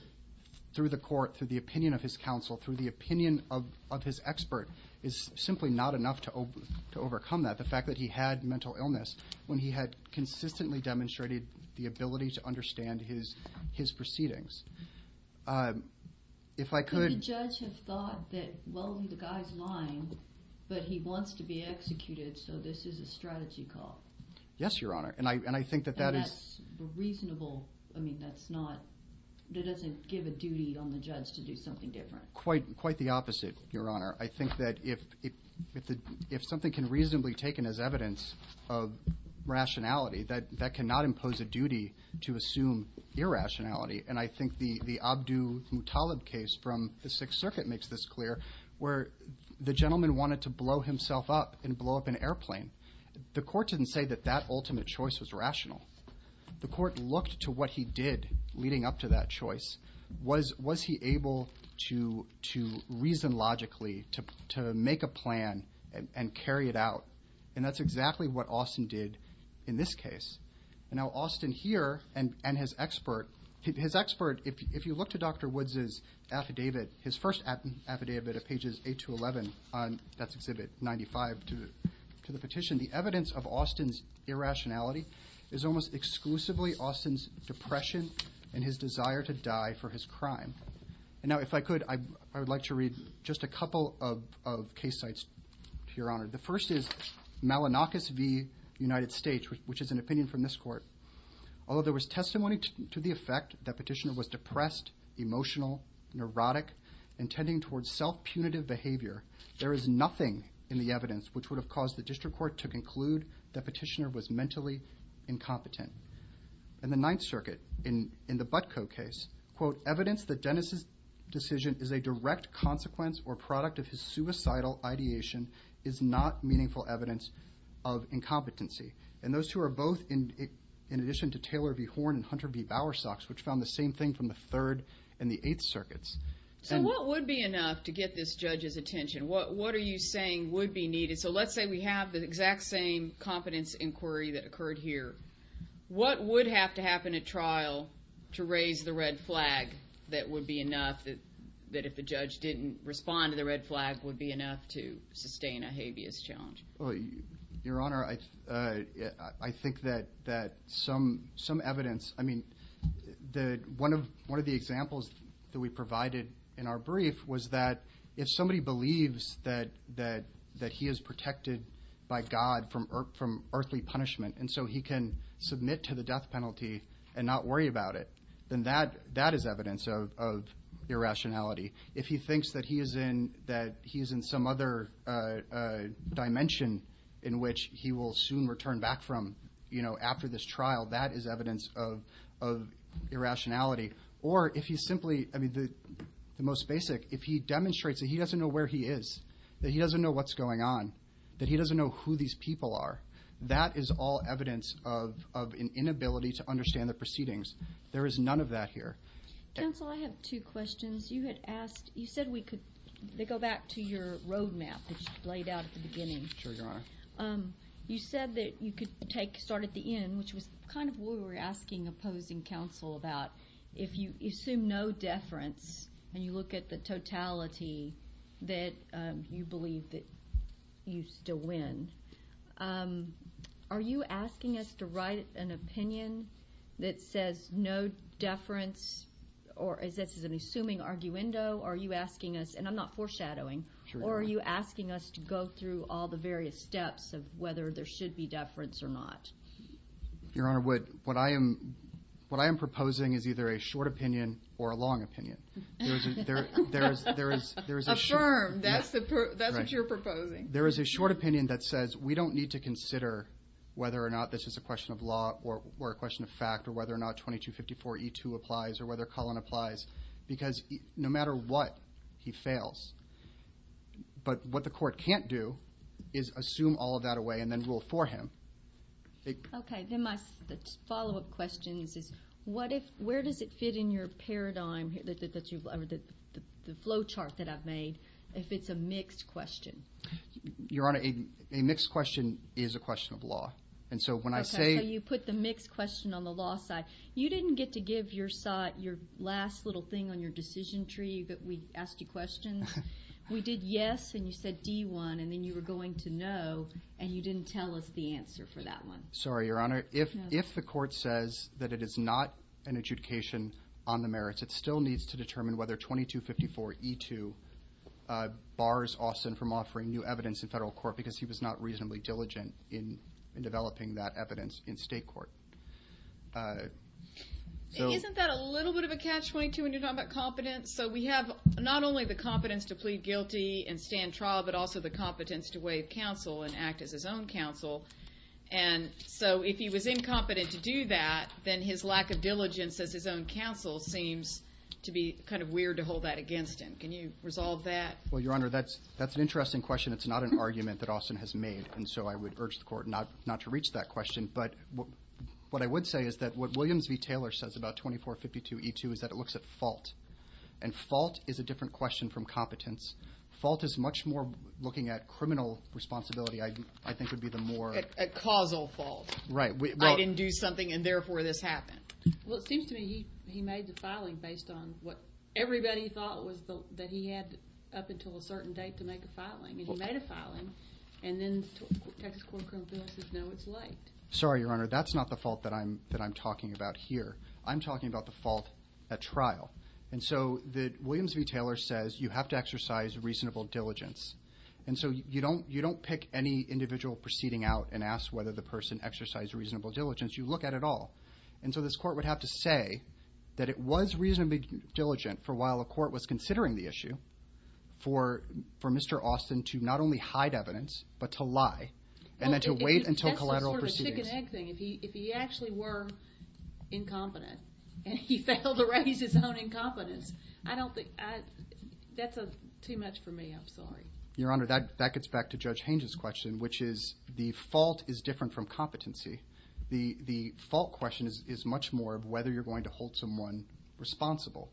through the court through the opinion of his counsel through the opinion of of his expert is simply not enough to to overcome that the fact that he had mental illness when he had consistently demonstrated the ability to understand his his proceedings um if i could judge has thought that well the guy's lying but he wants to be executed so this is a strategy call yes your honor and i and i think that that is reasonable i mean that's not it doesn't give a duty on the judge to do something different quite quite the opposite your honor i think that if if the if something can reasonably taken as evidence of rationality that that cannot impose a duty to assume irrationality and i think the the abdu mutallab case from the sixth circuit makes this clear where the gentleman wanted to blow himself up and blow up an airplane the court didn't say that that ultimate choice was rational the court looked to what he did leading up to that choice was was he able to to reason logically to to make a plan and carry it out and that's exactly what austin did in this case and now austin here and and his expert his expert if you look to dr woods's affidavit his first affidavit of pages on that's exhibit 95 to the to the petition the evidence of austin's irrationality is almost exclusively austin's depression and his desire to die for his crime and now if i could i i would like to read just a couple of of case sites to your honor the first is malinakis v united states which is an opinion from this court although there was testimony to the effect that petitioner was self-punitive behavior there is nothing in the evidence which would have caused the district court to conclude that petitioner was mentally incompetent in the ninth circuit in in the butco case quote evidence that dennis's decision is a direct consequence or product of his suicidal ideation is not meaningful evidence of incompetency and those who are both in in addition to taylor v horn and hunter v bowersox which found the same thing from the third and the eighth circuits so what would be enough to get this judge's attention what what are you saying would be needed so let's say we have the exact same competence inquiry that occurred here what would have to happen at trial to raise the red flag that would be enough that that if a judge didn't respond to the red flag would be enough to sustain a habeas challenge well your honor i uh that some some evidence i mean the one of one of the examples that we provided in our brief was that if somebody believes that that that he is protected by god from earth from earthly punishment and so he can submit to the death penalty and not worry about it then that that is evidence of of irrationality if he thinks that he is in that he's in some other uh uh dimension in which he will soon return back from you know after this trial that is evidence of of irrationality or if you simply i mean the most basic if he demonstrates that he doesn't know where he is that he doesn't know what's going on that he doesn't know who these people are that is all evidence of of an inability to understand the proceedings there is none of that here counsel i have two questions you had asked you said we could they go back to your roadmap which is laid out at the beginning sure your honor um you said that you could take start at the end which was kind of what we were asking opposing counsel about if you assume no deference and you look at the totality that um you believe that you still win um are you asking us to write an opinion that says no deference or is this an assuming arguendo are you asking us and i'm not foreshadowing or are you asking us to go through all the various steps of whether there should be deference or not your honor what what i am what i am proposing is either a short opinion or a long opinion there is there is there is a firm that's what you're proposing there is a short opinion that says we don't need to consider whether or not this is a question of law or a question of whether or not 2254 e2 applies or whether colin applies because no matter what he fails but what the court can't do is assume all of that away and then rule for him okay then my follow-up question is what if where does it fit in your paradigm that you've the flow chart that i've made if it's a mixed question your honor a mixed question is a question of law and so when i say you put the mixed question on the law side you didn't get to give your side your last little thing on your decision tree that we asked you questions we did yes and you said d1 and then you were going to know and you didn't tell us the answer for that one sorry your honor if if the court says that it is not an adjudication on the merits it still needs to determine whether 2254 e2 uh bars austin from offering new evidence in federal court because he was not reasonably diligent in developing that evidence in state court uh isn't that a little bit of a catch 22 when you talk about competence so we have not only the competence to plead guilty and stand trial but also the competence to waive counsel and act as his own counsel and so if he was incompetent to do that then his lack of diligence as his own counsel seems to be kind of weird to hold that against him can you resolve that well your honor that's interesting question it's not an argument that austin has made and so i would urge the court not not to reach that question but what i would say is that what williams v taylor says about 2452 e2 is that it looks at fault and fault is a different question from competence fault is much more looking at criminal responsibility i i think would be the more a causal fault right i didn't do something and therefore this happened well it seems to me he he made the filing based on what everybody thought was that he had up until a certain date to make a filing he made a filing and then the next court comes in it's now it's late sorry your honor that's not the fault that i'm that i'm talking about here i'm talking about the fault at trial and so the williams v taylor says you have to exercise reasonable diligence and so you don't you don't pick any individual proceeding out and ask whether the person exercised reasonable diligence you look at it all and so this court would have to say that it was reasonably diligent for while the court was considering the issue for for mr austin to not only hide evidence but to lie and then to wait until collateral proceedings if he actually were incompetent and he failed to raise his own incompetence i don't think that's a too much for me i'm sorry your honor that that gets back to is much more of whether you're going to hold someone responsible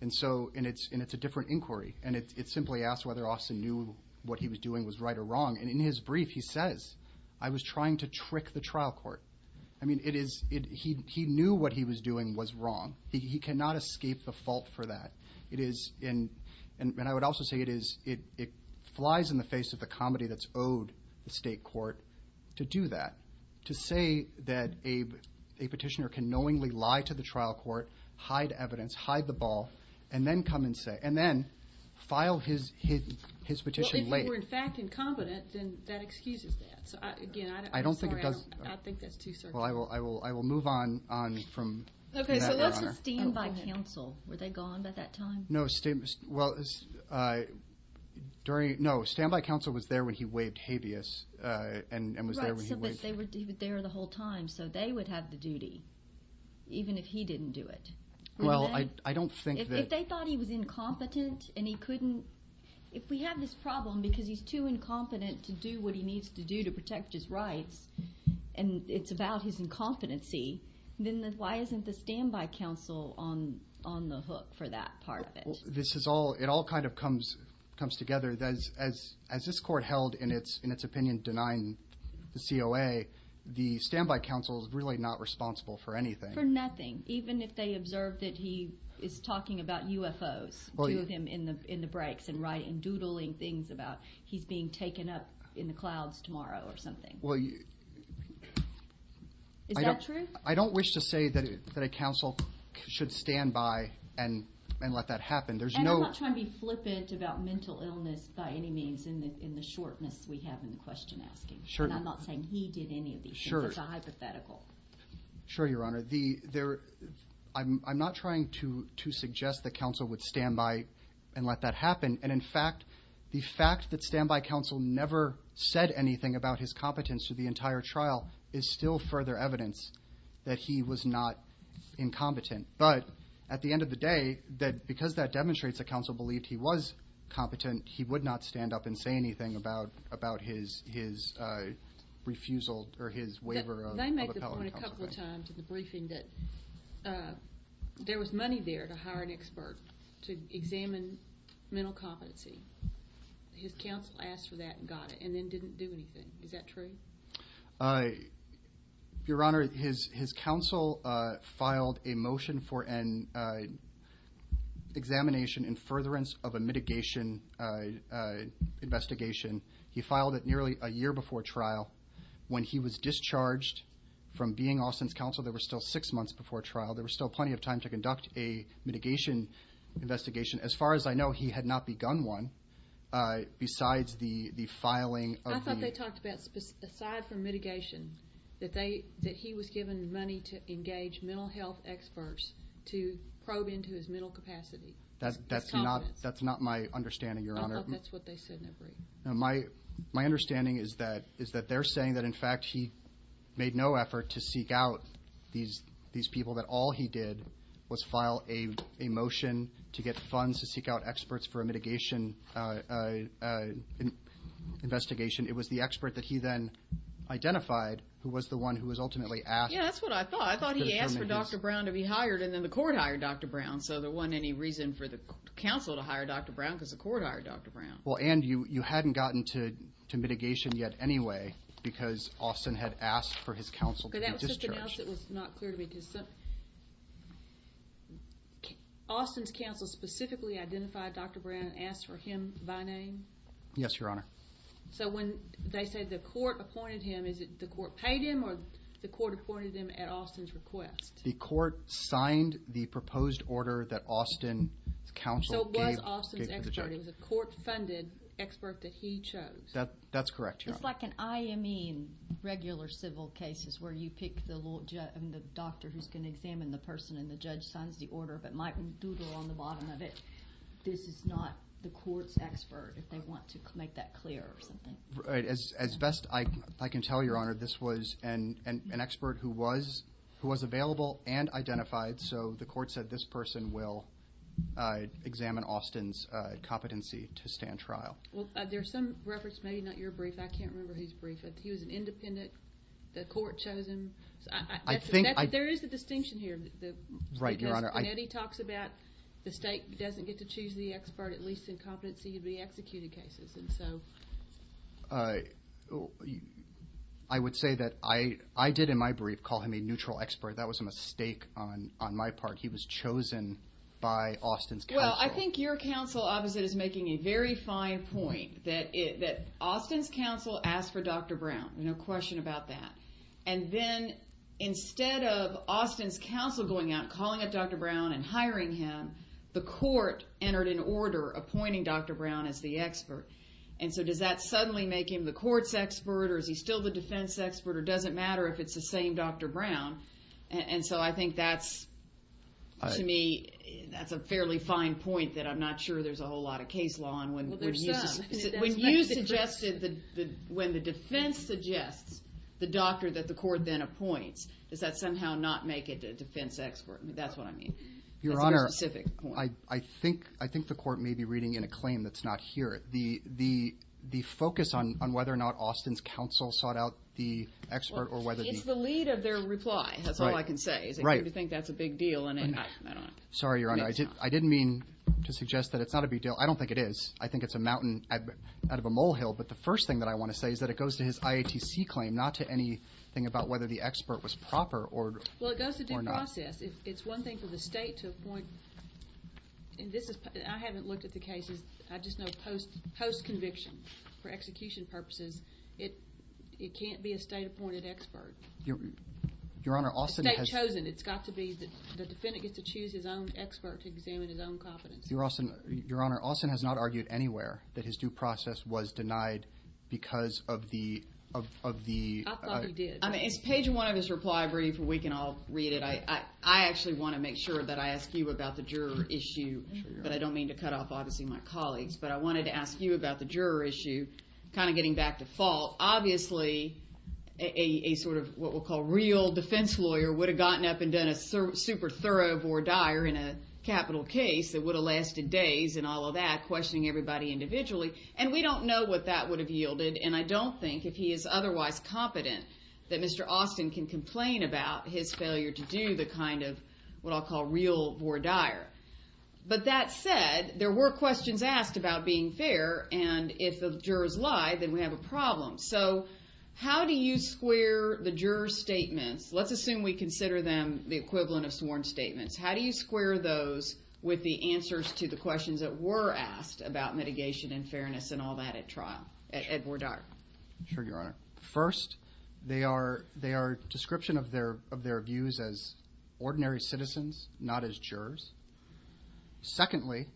and so and it's and it's a different inquiry and it simply asked whether austin knew what he was doing was right or wrong and in his brief he says i was trying to trick the trial court i mean it is it he he knew what he was doing was wrong he cannot escape the fault for that it is in and i would also say it is it it flies in the face of the comedy that's owed the state court to do that to say that a petition or can knowingly lie to the trial court hide evidence hide the ball and then come and say and then file his his his petition later in fact incompetent then that excuses that again i don't think it does i think that's too well i will i will i will move on on from okay let's stand by counsel were they gone by that time no statements well uh during no standby council was there when he waived habeas uh and was there when he was there the whole time so they would have the duty even if he didn't do it well i don't think that if they thought he was incompetent and he couldn't if we have this problem because he's too incompetent to do what he needs to do to protect his rights and it's about his incompetency then why isn't the standby council on on the hook for that part of it this is all it all kind of comes comes together as as as this court held in its in its opinion denying the coa the standby council is really not responsible for anything for nothing even if they observed that he is talking about ufos to him in the in the breaks and right and doodling things about he's being taken up in the clouds tomorrow or something well you is that true i don't wish to say that a council should stand by and and let that happen there's i'm not trying to be flippant about mental illness by any means in the in the shortness we have in question asking sure and i'm not saying he did any of these sure it's a hypothetical sure your honor the there i'm i'm not trying to to suggest that council would stand by and let that happen and in fact the fact that standby council never said anything about his competence to the entire trial is still further evidence that he was not incompetent but at the end of the day that because that demonstrates the council believed he was competent he would not stand up and say anything about about his his refusal or his waiver of a couple of times in the briefing that uh there was money there to hire an expert to examine mental competency his council asked for that and got it and then didn't do anything is that true uh your honor his his council uh motion for an uh examination and furtherance of a mitigation uh investigation he filed it nearly a year before trial when he was discharged from being austin's council there were still six months before trial there was still plenty of time to conduct a mitigation investigation as far as i know he had not begun one uh besides the the filing i thought they talked about aside from to probe into his mental capacity that that's not that's not my understanding your honor that's what they said my my understanding is that is that they're saying that in fact he made no effort to seek out these these people that all he did was file a motion to get funds to seek out experts for a mitigation uh uh investigation it was the expert that he then identified who was the one who was to be hired and then the court hired dr brown so there wasn't any reason for the council to hire dr brown because the court hired dr brown well and you you hadn't gotten to to mitigation yet anyway because austin had asked for his counsel austin's council specifically identified dr brown asked for him by name yes your honor so when they said the court appointed him is it the court paid him or the court appointed him at austin's request the court signed the proposed order that austin council the court funded expert that he chose that that's correct it's like an ime regular civil cases where you take the little doctor who's going to examine the person and the judge signs the order but might google on the bottom of it this is not the court expert if they want to make that clear as as best i i can tell your honor this was an an expert who was who was available and identified so the court said this person will uh examine austin's uh competency to stand trial well there's some reference maybe not your brief i can't remember who's briefed if he was an independent the court chosen i think there is a distinction here the right your honor eddie talks about the state doesn't get to choose the i would say that i i did in my brief call him a neutral expert that was a mistake on on my part he was chosen by austin's well i think your counsel obviously is making a very fine point that it that austin's counsel asked for dr brown no question about that and then instead of austin's counsel going out calling up dr brown and hiring him the court entered an order appointing dr brown as the doesn't matter if it's the same dr brown and so i think that's to me that's a fairly fine point that i'm not sure there's a whole lot of case law and when there's when you suggested that when the defense suggests the doctor that the court then appoints does that somehow not make it a defense expert that's what i mean your honor i i think i think the court may be reading in a claim that's the the the focus on on whether or not austin's counsel sought out the expert or whether it's the lead of their reply that's all i can say right you think that's a big deal and i don't sorry your honor i didn't i didn't mean to suggest that it's not a big deal i don't think it is i think it's a mountain out of a molehill but the first thing that i want to say is that it goes to his iatc claim not to any thing about whether the expert was proper or well it does the process it's one thing for the state to appoint and this is i haven't looked at the cases i just know post post conviction for execution purposes it it can't be a state appointed expert your your honor austin has chosen it's got to be the defendant gets to choose his own expert to examine his own competence you're also your honor austin has not argued anywhere that his due process was denied because of the of of the i thought he did i mean it's page one of his reply reading for we can all read it i i actually want to make sure that i ask you about the juror issue but i don't mean to cut off obviously my colleagues but i wanted to ask you about the juror issue kind of getting back to fault obviously a a sort of what we'll call real defense lawyer would have gotten up and done a super thorough or dire in a capital case that would have lasted days and all of that questioning everybody individually and we don't know what that would have yielded and i don't think if he is competent that mr austin can complain about his failure to do the kind of what i'll call real or dire but that said there were questions asked about being fair and if the jurors lie then we have a problem so how do you square the juror statement let's assume we consider them the equivalent of sworn statements how do you square those with the answers to the questions that were asked about mitigation and fairness and all that at trial at more dark sure your honor first they are they are description of their of their views as ordinary citizens not as jurors secondly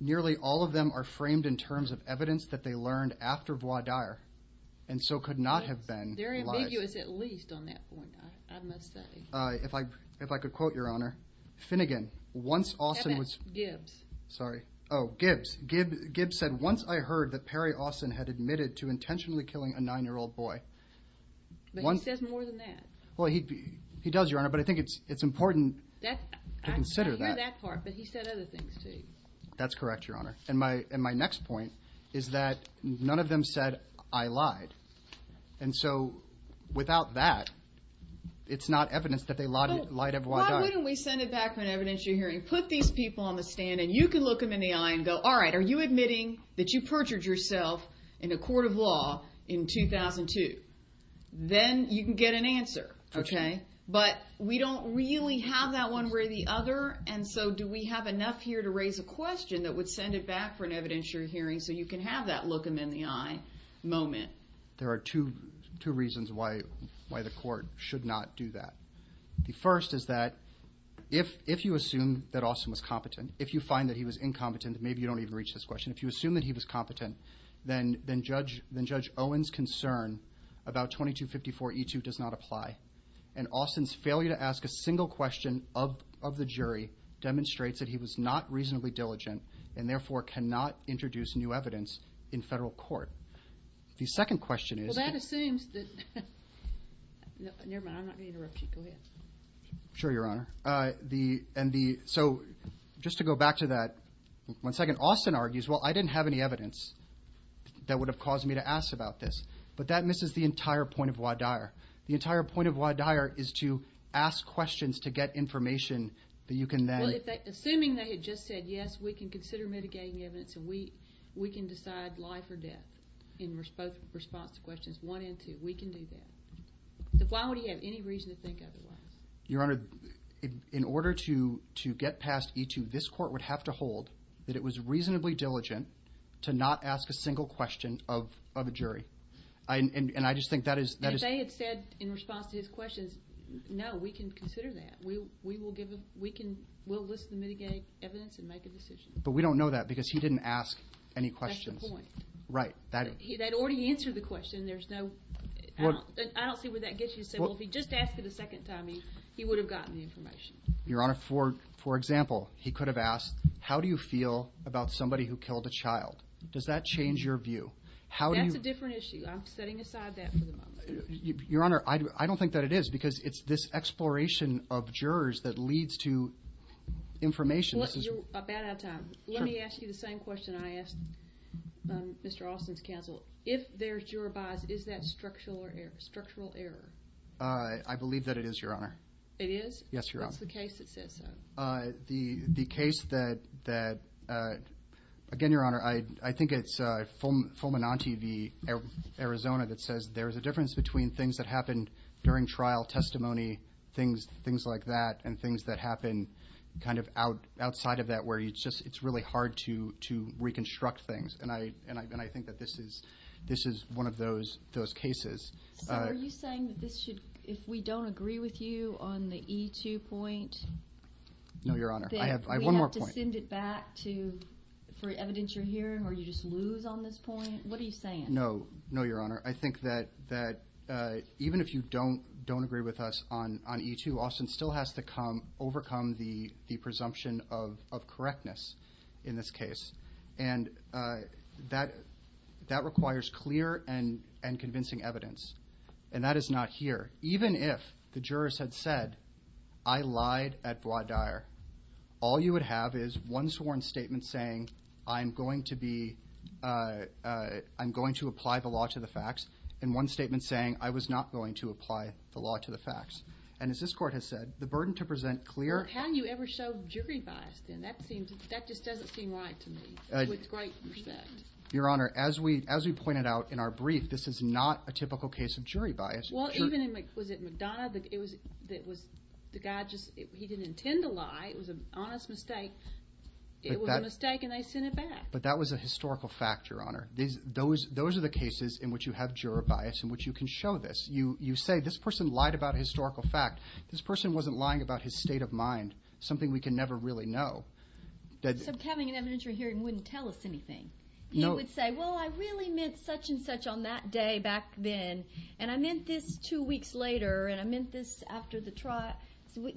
nearly all of them are framed in terms of evidence that they learned after voir dire and so could not have been very ambiguous at least on that point i'm not saying uh if i if i could quote your honor finnegan once austin was sorry oh gibbs gibbs said once i heard that perry austin had admitted to intentionally killing a nine-year-old boy one says more than that well he he does your honor but i think it's it's important that to consider that part but he said other things too that's correct your honor and my and my next point is that none of them said i lied and so without that it's not evidence that they lied everyone why don't we send it back on evidence you're hearing put these people on the stand and you can look them in the eye and go all right are you admitting that you perjured yourself in a court of law in 2002 then you can get an answer okay but we don't really have that one way or the other and so do we have enough here to raise a question that would send it back for an evidentiary hearing so you can have that look them in the eye moment there are two two reasons why why the court should not do that the first is that if if you assume that austin was competent if you find that he was incompetent maybe you don't even reach this question if you assume that he was competent then then judge then judge owens concern about 2254e2 does not apply and austin's failure to ask a single question of of the jury demonstrates that he was not reasonably diligent and therefore cannot introduce new evidence in federal court the second question that assumes that nevermind i'm not going to interrupt you go ahead sure your honor uh the and the so just to go back to that one second austin argues well i didn't have any evidence that would have caused me to ask about this but that misses the entire point of why dire the entire point of why dire is to ask questions to get information that you can then assuming they had just said yes we can consider mitigating evidence and we we can decide life or death in response to questions one and two we can do that so why would he have any reason to think otherwise your honor in order to to get past e2 this court would have to hold that it was reasonably diligent to not ask a single question of of a jury i and and i just think that is they had said in response to his questions no we can consider that we we will give we can we'll listen mitigate evidence and make a decision but we don't know that because he didn't ask any questions right that he that already answered the question there's no i don't see where that gets me so if he just asked for the second time he he would have gotten the information your honor for for example he could have asked how do you feel about somebody who killed a child does that change your view how do you different issue i'm setting that it is because it's this exploration of jurors that leads to information let me ask you the same question i asked um mr austin's counsel if there's your advice is that structural error structural error uh i believe that it is your honor it is yes you're off the case it says uh the the case that that uh again your honor i i think it's uh fulman on tv arizona that says there's a difference between things that happened during trial testimony things things like that and things that happen kind of out outside of that where you just it's really hard to to reconstruct things and i and i think that this is this is one of those those cases are you saying that this should if we don't agree with you on the e2 point no your honor i have one more point send it back to for evidence you're here or you just move on this point what no no your honor i think that that uh even if you don't don't agree with us on on e2 austin still has to come overcome the the presumption of of correctness in this case and uh that that requires clear and and convincing evidence and that is not here even if the jurors had said i lied at going to apply the law to the facts and one statement saying i was not going to apply the law to the facts and as this court has said the burden to present clear how do you ever show jury bias then that seems that just doesn't seem right to me it was great your honor as we as we pointed out in our brief this is not a typical case of jury bias well even in which was it mcdonough but it was that was the guy just he didn't intend to lie it was an honest mistake it was a mistake but that was a historical fact your honor these those those are the cases in which you have juror bias in which you can show this you you say this person lied about historical facts this person wasn't lying about his state of mind something we can never really know that having an evidentiary hearing wouldn't tell us anything you would say well i really meant such and such on that day back then and i meant this two weeks later and i meant this after the trial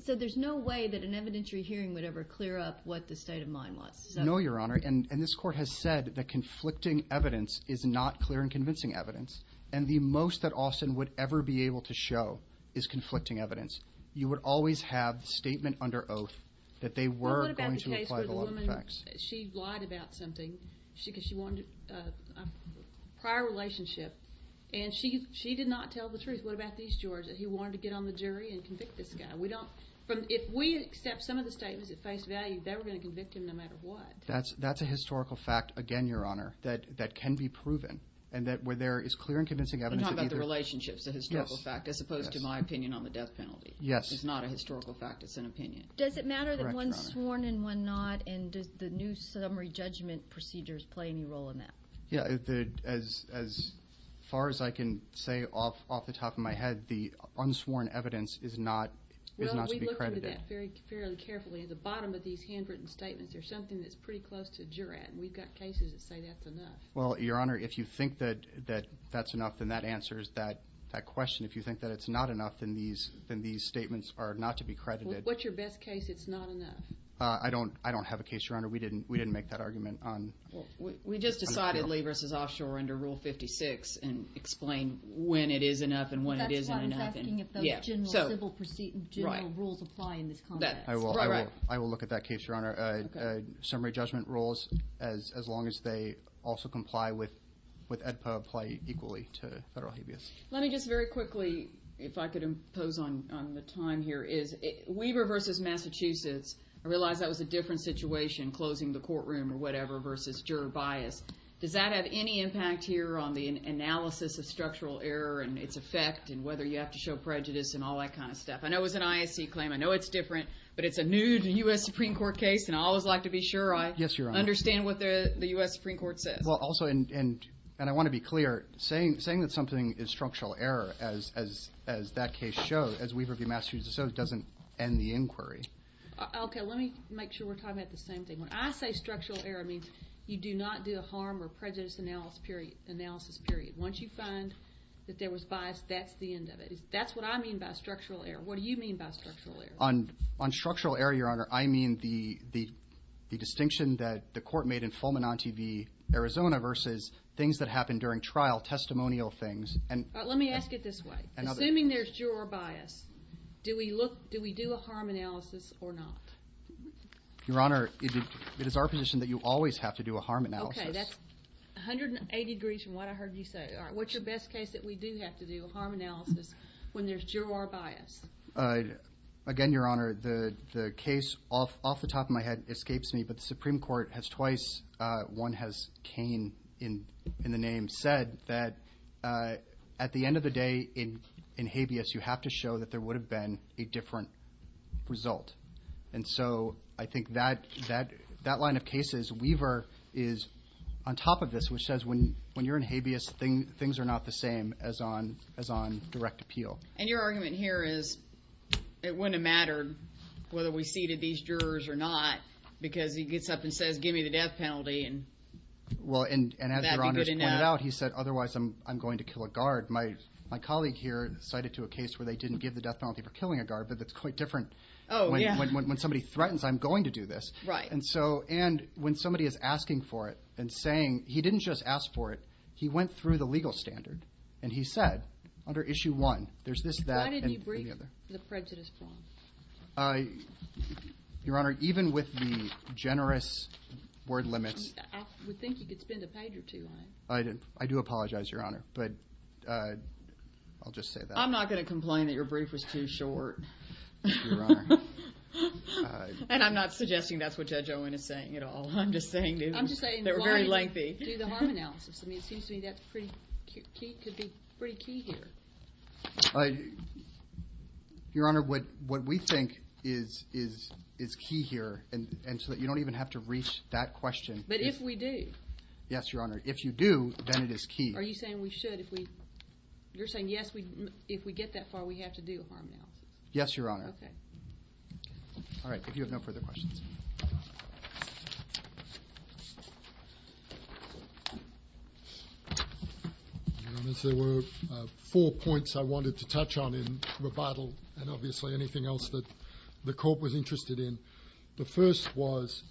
so there's no way that evidentiary hearing would ever clear up what the state of mind was no your honor and this court has said that conflicting evidence is not clear and convincing evidence and the most that austin would ever be able to show is conflicting evidence you would always have statement under oath that they were she lied about something she wanted a prior relationship and she she did not tell the truth what about east georgia he wanted to get on the jury and convict this guy we don't if we accept some of the statements that face values they were going to convict him no matter what that's that's a historical fact again your honor that that can be proven and that where there is clear and convincing evidence about the relationships the historical fact as opposed to my opinion on the death penalty yes it's not a historical fact it's an opinion does it matter that one's sworn and one not and does the new summary judgment procedures play any role in that yeah as as far as i can say off off the top of my head the unsworn evidence is not fairly carefully at the bottom of these handwritten statements there's something that's pretty close to jury and we've got cases that say that's enough well your honor if you think that that that's enough then that answers that that question if you think that it's not enough than these than these statements are not to be credited what's your best case it's not enough uh i don't i don't have a case your honor we didn't we didn't make that argument on we just decidedly versus offshore under rule 56 and explain when it is enough and when it yes general rules apply in this context i will i will look at that case your honor uh summary judgment rules as as long as they also comply with with edpa apply equally to federal habeas let me just very quickly if i could impose on on the time here is weaver versus massachusetts i realize that was a different situation closing the courtroom or whatever versus juror bias does that have any impact here on the analysis of structural error and its effect and whether you have to show prejudice and all that kind of stuff i know it's an isd claim i know it's different but it's a new to u.s supreme court case and i always like to be sure i yes you understand what the the u.s supreme court says well also and and i want to be clear saying saying that something is structural error as as as that case shows as weaver v massachusetts doesn't end the inquiry okay let me make sure we're talking about the same thing when i say structural error you do not do a harm or prejudice analysis period analysis period once you find that there was bias that's the end of it that's what i mean by structural error what do you mean by structural error on on structural error your honor i mean the the the distinction that the court made in fullman on tv arizona versus things that happened during trial testimonial things and let me ask it this way and i mean there's your bias do we look do we do a harm analysis or not your honor it is our position that you always have to do a harm analysis 180 degrees from what i heard you say all right what's the best case that we do have to do a harm analysis when there's juror bias uh again your honor the the case off off the top of my head escapes me but the supreme court has twice uh one has came in in the name said that uh at the end of the day in habeas you have to show that there would have been a different result and so i think that that that line of cases weaver is on top of this which says when when you're in habeas thing things are not the same as on as on direct appeal and your argument here is it wouldn't matter whether we seated these jurors or not because he gets up and says give me the death penalty and well and he said otherwise i'm i'm going to kill a guard my my colleague here cited to a case where they didn't give the death penalty for killing a guard but it's quite different oh yeah when somebody threatens i'm going to do this right and so and when somebody is asking for it and saying he didn't just ask for it he went through the legal standard and he said under issue one there's this brief the prejudice form uh your honor even with the generous word limit i would think you could spend a page or two i did i do apologize your honor but uh i'll just say that i'm not going to complain that your brief was too short your honor and i'm not suggesting that's what judge owen is saying you know i'm just saying they're very lengthy analysis i mean it seems to me that's cute to be pretty key here uh your honor what what we think is is is key here and and so that you don't even have to reach that question but if we do yes your honor if you do then it is key are you saying we should if we you're saying yes we if we get that far we have to do harm now yes your honor okay all right if you have no further questions there were four points i wanted to touch on in rebuttal and obviously anything else that the court was interested in the first was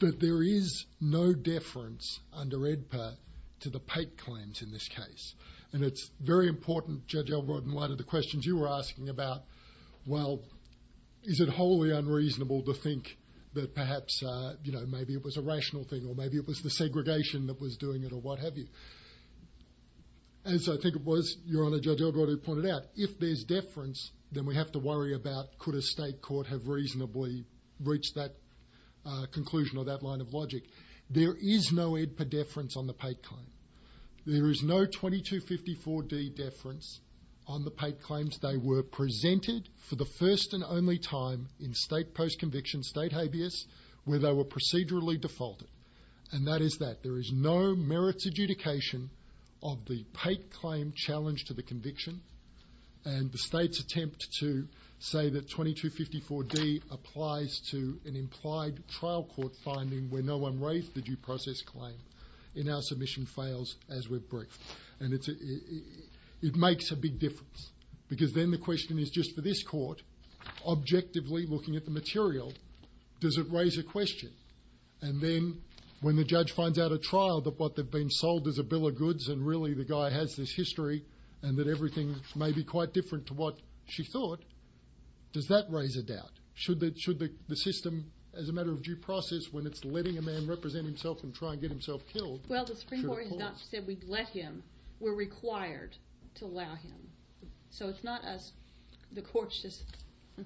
that there is no deference under edpa to the pate claims in this case and it's very important in light of the questions you were asking about well is it wholly unreasonable to think that perhaps uh you know maybe it was a rational thing or maybe it was the segregation that was doing it or what have you and so i think it was your honor judge elbert who pointed out if there's deference then we have to worry about could a state court have reasonably reached that uh conclusion of that line of logic there is no edpa deference on the pate claim there is no 2254d deference on the pate claims they were presented for the first and only time in state post-conviction state habeas where they were procedurally defaulted and that is that there is no merits adjudication of the pate claim challenge to the conviction and the state's attempt to say that 2254d applies to an implied trial court finding where no one raised the due process claim in our submission fails as we break and it's it makes a big difference because then the question is just for this court objectively looking at the material does it raise a question and then when the judge finds out a trial that what they've been sold as a bill of goods and really the guy has this history and that everything may be quite different to what she thought does that raise a doubt should that should the system as a matter of due process when it's letting a man represent himself and try and get himself killed well the Supreme Court has not said we let him we're required to allow him so it's not us the court's just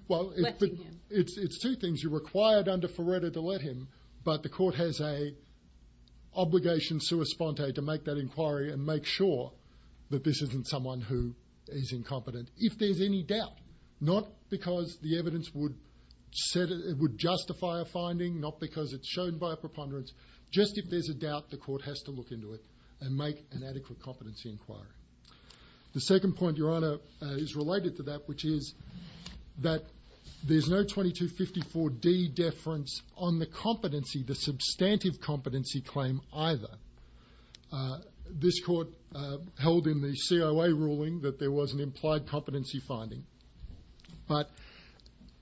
well it's two things you're required under Feretta to let him but the court has a obligation sua sponte to make that inquiry and make sure that this isn't someone who is incompetent if there's any doubt not because the evidence would said it would justify a finding not because it's shown by a preponderance just if there's a doubt the court has to look into it and make an adequate competency inquiry the second point your honor is related to that which is that there's no 2254d deference on the competency the substantive competency claim either this court held in the coa ruling that there was an implied competency finding but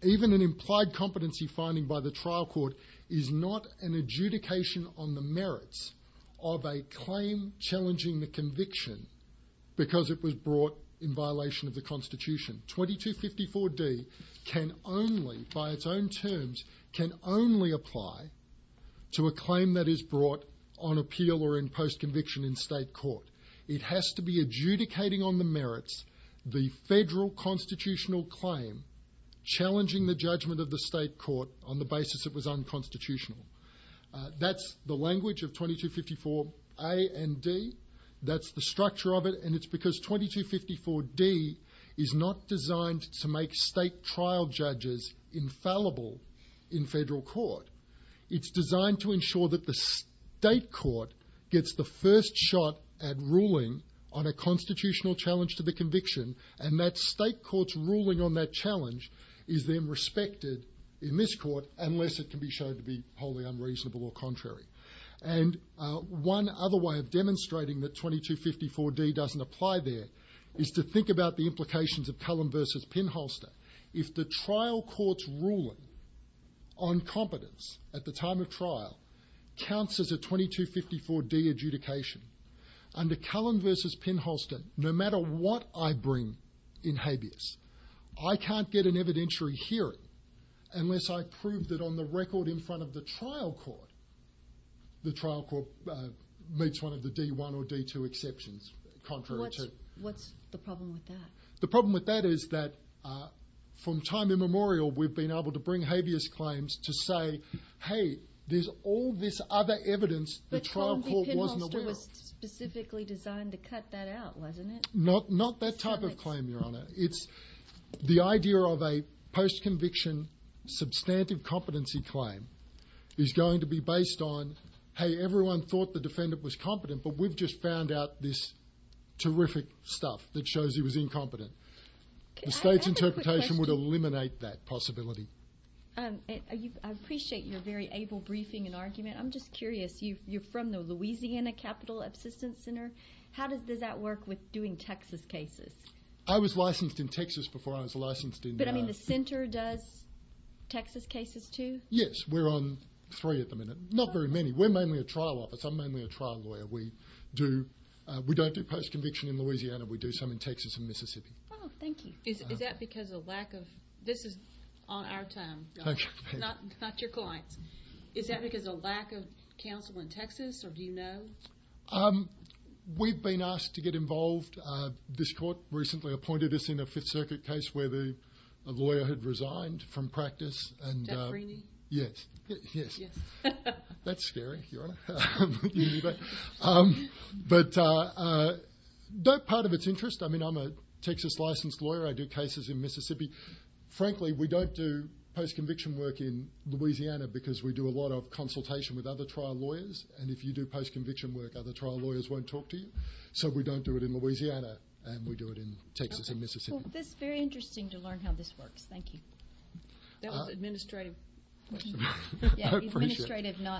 even an implied competency finding by the trial court is not an adjudication on the merits of a claim challenging the conviction because it was brought in violation of the constitution 2254d can only by its own terms can only apply to a claim that is brought on appeal or in post conviction in state court it has to be adjudicating on the merits the federal constitutional claim challenging the judgment of the state court on the basis it was unconstitutional that's the language of 2254a and d that's the structure of it and it's because 2254d is not designed to make state trial judges infallible in federal court it's designed to state court gets the first shot at ruling on a constitutional challenge to the conviction and that state court's ruling on that challenge is then respected in this court unless it can be shown to be wholly unreasonable or contrary and one other way of demonstrating that 2254d doesn't apply there is to think about the implications of Pelham versus Pinholster if the trial court's ruling on competence at the time of trial counts as a 2254d adjudication under Cullen versus Pinholster no matter what I bring in habeas I can't get an evidentiary hearing unless I prove that on the record in front of the trial court the trial court makes one of the d1 exceptions what's the problem with that the problem with that is that uh from time immemorial we've been able to bring habeas claims to say hey there's all this other evidence the trial court specifically designed to cut that out wasn't it not not that type of claim your honor it's the idea of a post-conviction substantive competency claim is going to be based on hey everyone thought the defendant was competent but we've just found out this terrific stuff that shows he was incompetent the state's interpretation would eliminate that possibility um are you I appreciate your very able briefing and argument I'm just curious you you're from the Louisiana capital assistance center how does does that work with doing Texas cases I was licensed in Texas before I was licensed in the center does Texas cases too yes we're on three at the minute not very many we're mainly a trial office I'm mainly a trial lawyer we do we don't do post-conviction in Louisiana we do some in Texas and Mississippi oh thank you is that because a lack of this is on our time thank you it's not your point is that because a lack of counsel in Texas or do you know um we've been asked to get involved uh this court recently appointed us in a fifth circuit case where the lawyer had resigned from practice and yes yes that's scary um but uh uh that part of its interest I mean I'm a Texas licensed lawyer I do cases in Mississippi frankly we don't do post-conviction work in Louisiana because we do a lot of consultation with other trial lawyers and if you do post-conviction work other trial lawyers won't talk to you so we don't do it in Louisiana and we do it in Texas and administrative not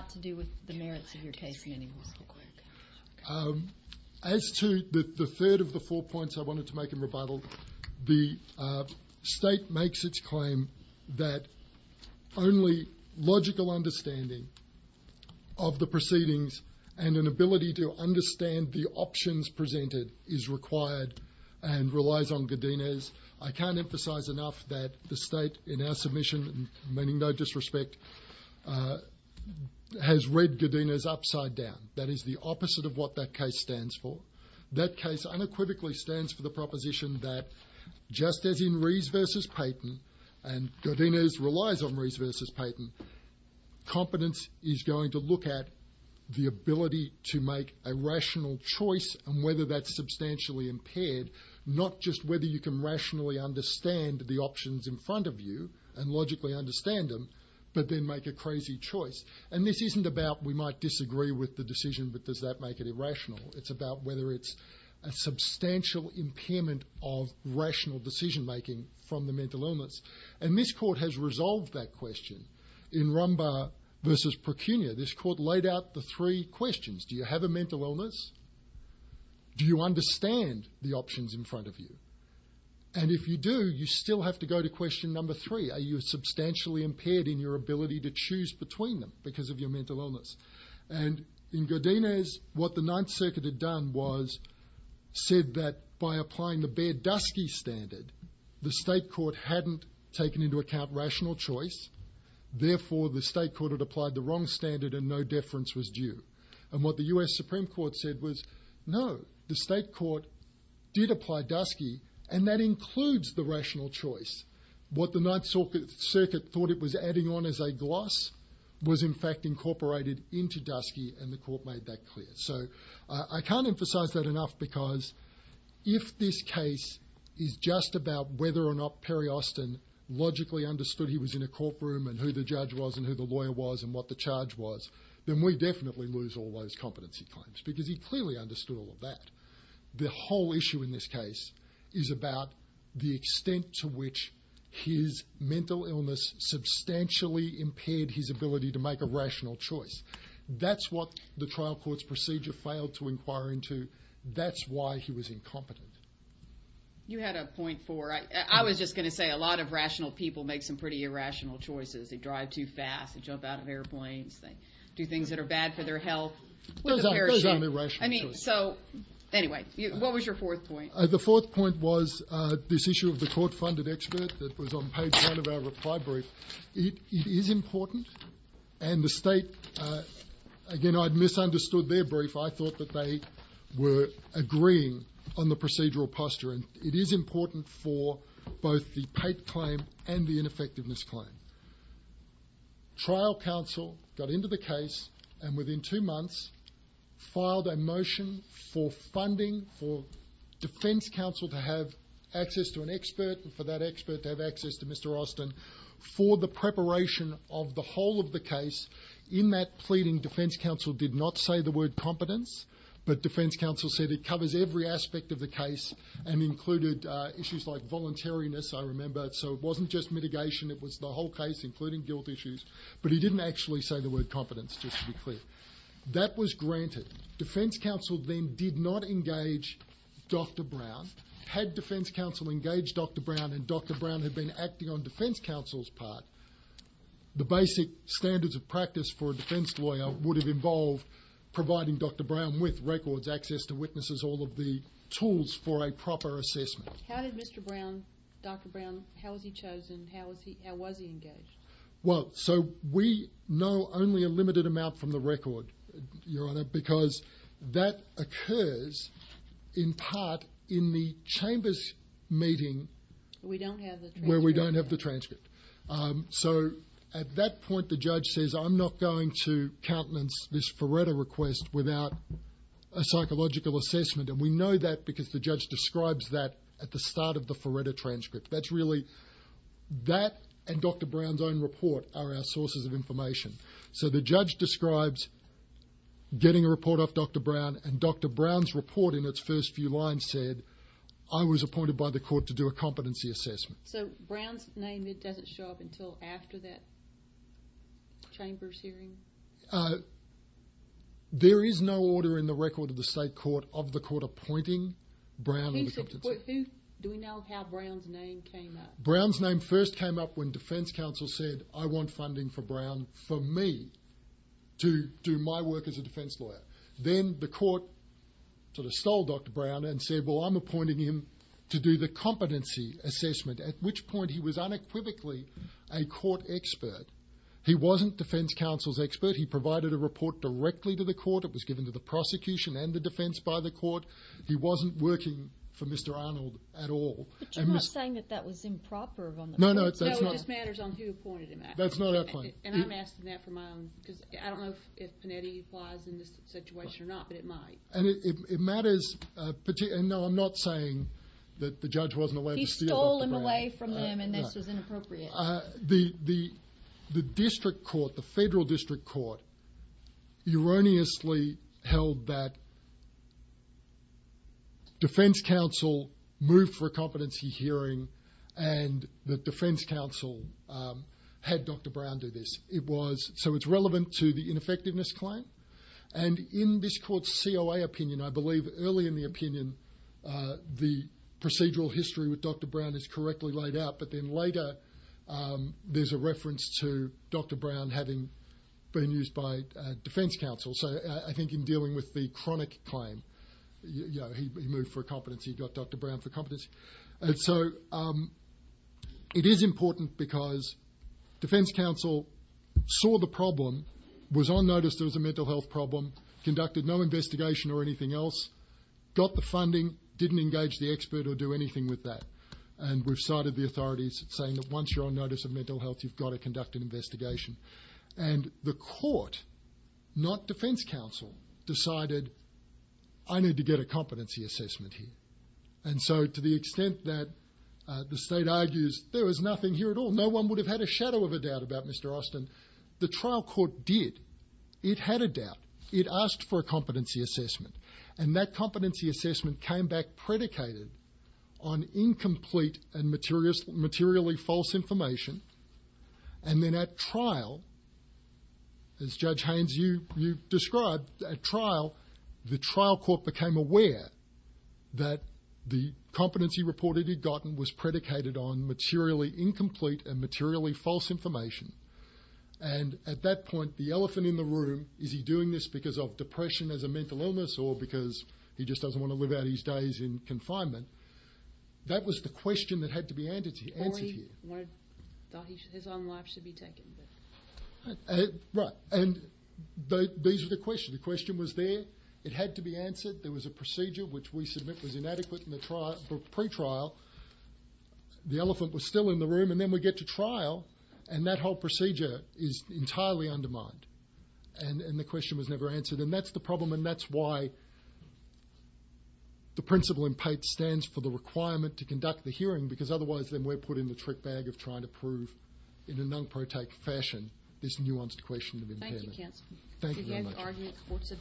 to do with the merits of your case anymore um as to the third of the four points I wanted to make in rebuttal the uh state makes its claim that only logical understanding of the proceedings and an ability to understand the options presented is required and relies on Godinez I can't emphasize enough that the state in our submission meaning no disrespect uh has read Godinez upside down that is the opposite of what that case stands for that case unequivocally stands for the proposition that just as in Reeves versus Payton and Godinez relies on Reeves versus Payton competence is going to look at the ability to make a rational choice and whether that's substantially impaired not just whether you can rationally understand the options in front of you and logically understand them but then make a crazy choice and this isn't about we might disagree with the decision but does that make it irrational it's about whether it's a substantial impairment of rational decision making from the mental illness and this court has resolved that question in Rumba versus Procunia this court laid out the three questions do you have a mental illness do you understand the options in front of you and if you do you still have to go to question number three are you substantially impaired in your ability to choose between them because of your mental illness and in Godinez what the ninth circuit had done was said that by applying the bare dusky standard the state court hadn't taken into account rational choice therefore the state court had applied the wrong standard and no deference was due and what the U.S. Supreme Court said was no the state court did apply dusky and that includes the rational choice what the ninth circuit thought it was adding on as a gloss was in fact incorporated into dusky and the court made that clear so I can't emphasize that enough because if this case is just about whether or not Perry Austin logically understood he was in a courtroom and who the judge was and who the lawyer was and what the charge was then we definitely lose all those competency claims because he clearly understood all of that the whole issue in this case is about the extent to which his mental illness substantially impaired his ability to make a rational choice that's what the trial court's procedure failed to inquire into that's why he was incompetent. You had a point for I was just going to say a lot of rational people make some pretty irrational choices they drive too fast jump out of airplanes they do things that are bad for their health I mean so anyway what was your fourth point? The fourth point was this issue of the court funded experts that was on page one of our reply brief it is important and the state again I'd misunderstood their brief I thought that they were agreeing on the procedural posture and it is important for both the paid claim and the trial counsel got into the case and within two months filed a motion for funding for defense counsel to have access to an expert and for that expert to have access to Mr. Austin for the preparation of the whole of the case in that pleading defense counsel did not say the word competence but defense counsel said it covers every aspect of the case and included issues like voluntariness I remember so it wasn't just mitigation it was the whole case including guilt issues but he didn't actually say the word competence just to be clear that was granted defense counsel then did not engage Dr. Brown had defense counsel engaged Dr. Brown and Dr. Brown had been acting on defense counsel's part the basic standards of practice for a defense lawyer would have involved providing Dr. Brown with records access to witnesses all of the tools for a proper assessment how did Mr. Brown Dr. Brown how was he chosen how was he how was he engaged well so we know only a limited amount from the record your honor because that occurs in part in the chambers meeting we don't have where we don't have the transcript um so at that point the judge says I'm not going to countenance this pareto request without a psychological assessment and we know that because the judge describes that at the start of the forerunner transcript that's really that and Dr. Brown's own report are our sources of information so the judge describes getting a report off Dr. Brown and Dr. Brown's report in its first few lines said I was appointed by the court to do a competency assessment so Brown's name that doesn't show up so after that chambers hearing uh there is no order in the record of the state court of the court appointing Brown do we know how Brown's name came up Brown's name first came up when defense counsel said I want funding for Brown for me to do my work as a defense lawyer then the court sort of stole Dr. Brown and said well I'm appointing him to do the competency assessment at which point he was unequivocally a court expert he wasn't defense counsel's expert he provided a report directly to the court it was given to the prosecution and the defense by the court he wasn't working for Mr. Arnold at all I'm not saying that that was improper no no no it just matters on who appointed him that's not a point and I'm asking that for my own because I don't know if it applies in this situation or not but it might and it matters uh and no I'm not saying that the judge wasn't allowed he stole him away from them and this is inappropriate the the the district court the federal district court erroneously held that defense counsel moved for a competency hearing and the defense counsel um had Dr. Brown do this it was so it's relevant to the ineffectiveness claim and in this court's COA opinion I believe early in the opinion uh the procedural history with Dr. Brown is correctly laid out but then later um there's a reference to Dr. Brown having been used by uh defense counsel so I think in dealing with the chronic claim you know he moved for a competency he got Dr. Brown for competence and so um it is important because defense counsel saw the problem was on notice there was a mental health problem conducted no investigation or anything else got the funding didn't engage the expert or do anything with that and we've cited the authorities saying that once you're on notice of mental health you've got to conduct an investigation and the court not defense counsel decided I need to get a competency assessment here and so to the extent that the state argues there was nothing here at all no one would have had a shadow of a doubt about Mr. Austin the trial court did it had a doubt it asked for a competency assessment and that competency assessment came back predicated on incomplete and materials materially false information and then at trial as Judge Haynes you you described at trial the trial court became aware that the competency report he'd gotten was predicated on materially incomplete and at that point the elephant in the room is he doing this because of depression as a mental illness or because he just doesn't want to live out his days in confinement that was the question that had to be answered. His own life should be taken. Right and these are the questions the question was there it had to be answered there was a procedure which we submit was inadequate in the trial for pre-trial the elephant was still in the room and then we get to trial and that whole procedure is entirely undermined and the question was never answered and that's the problem and that's why the principle in Pate stands for the requirement to conduct the hearing because otherwise then we're put in the trick bag of trying to prove in a non-protect fashion this nuanced question of impairment. Thank you Kent. Thank you very much.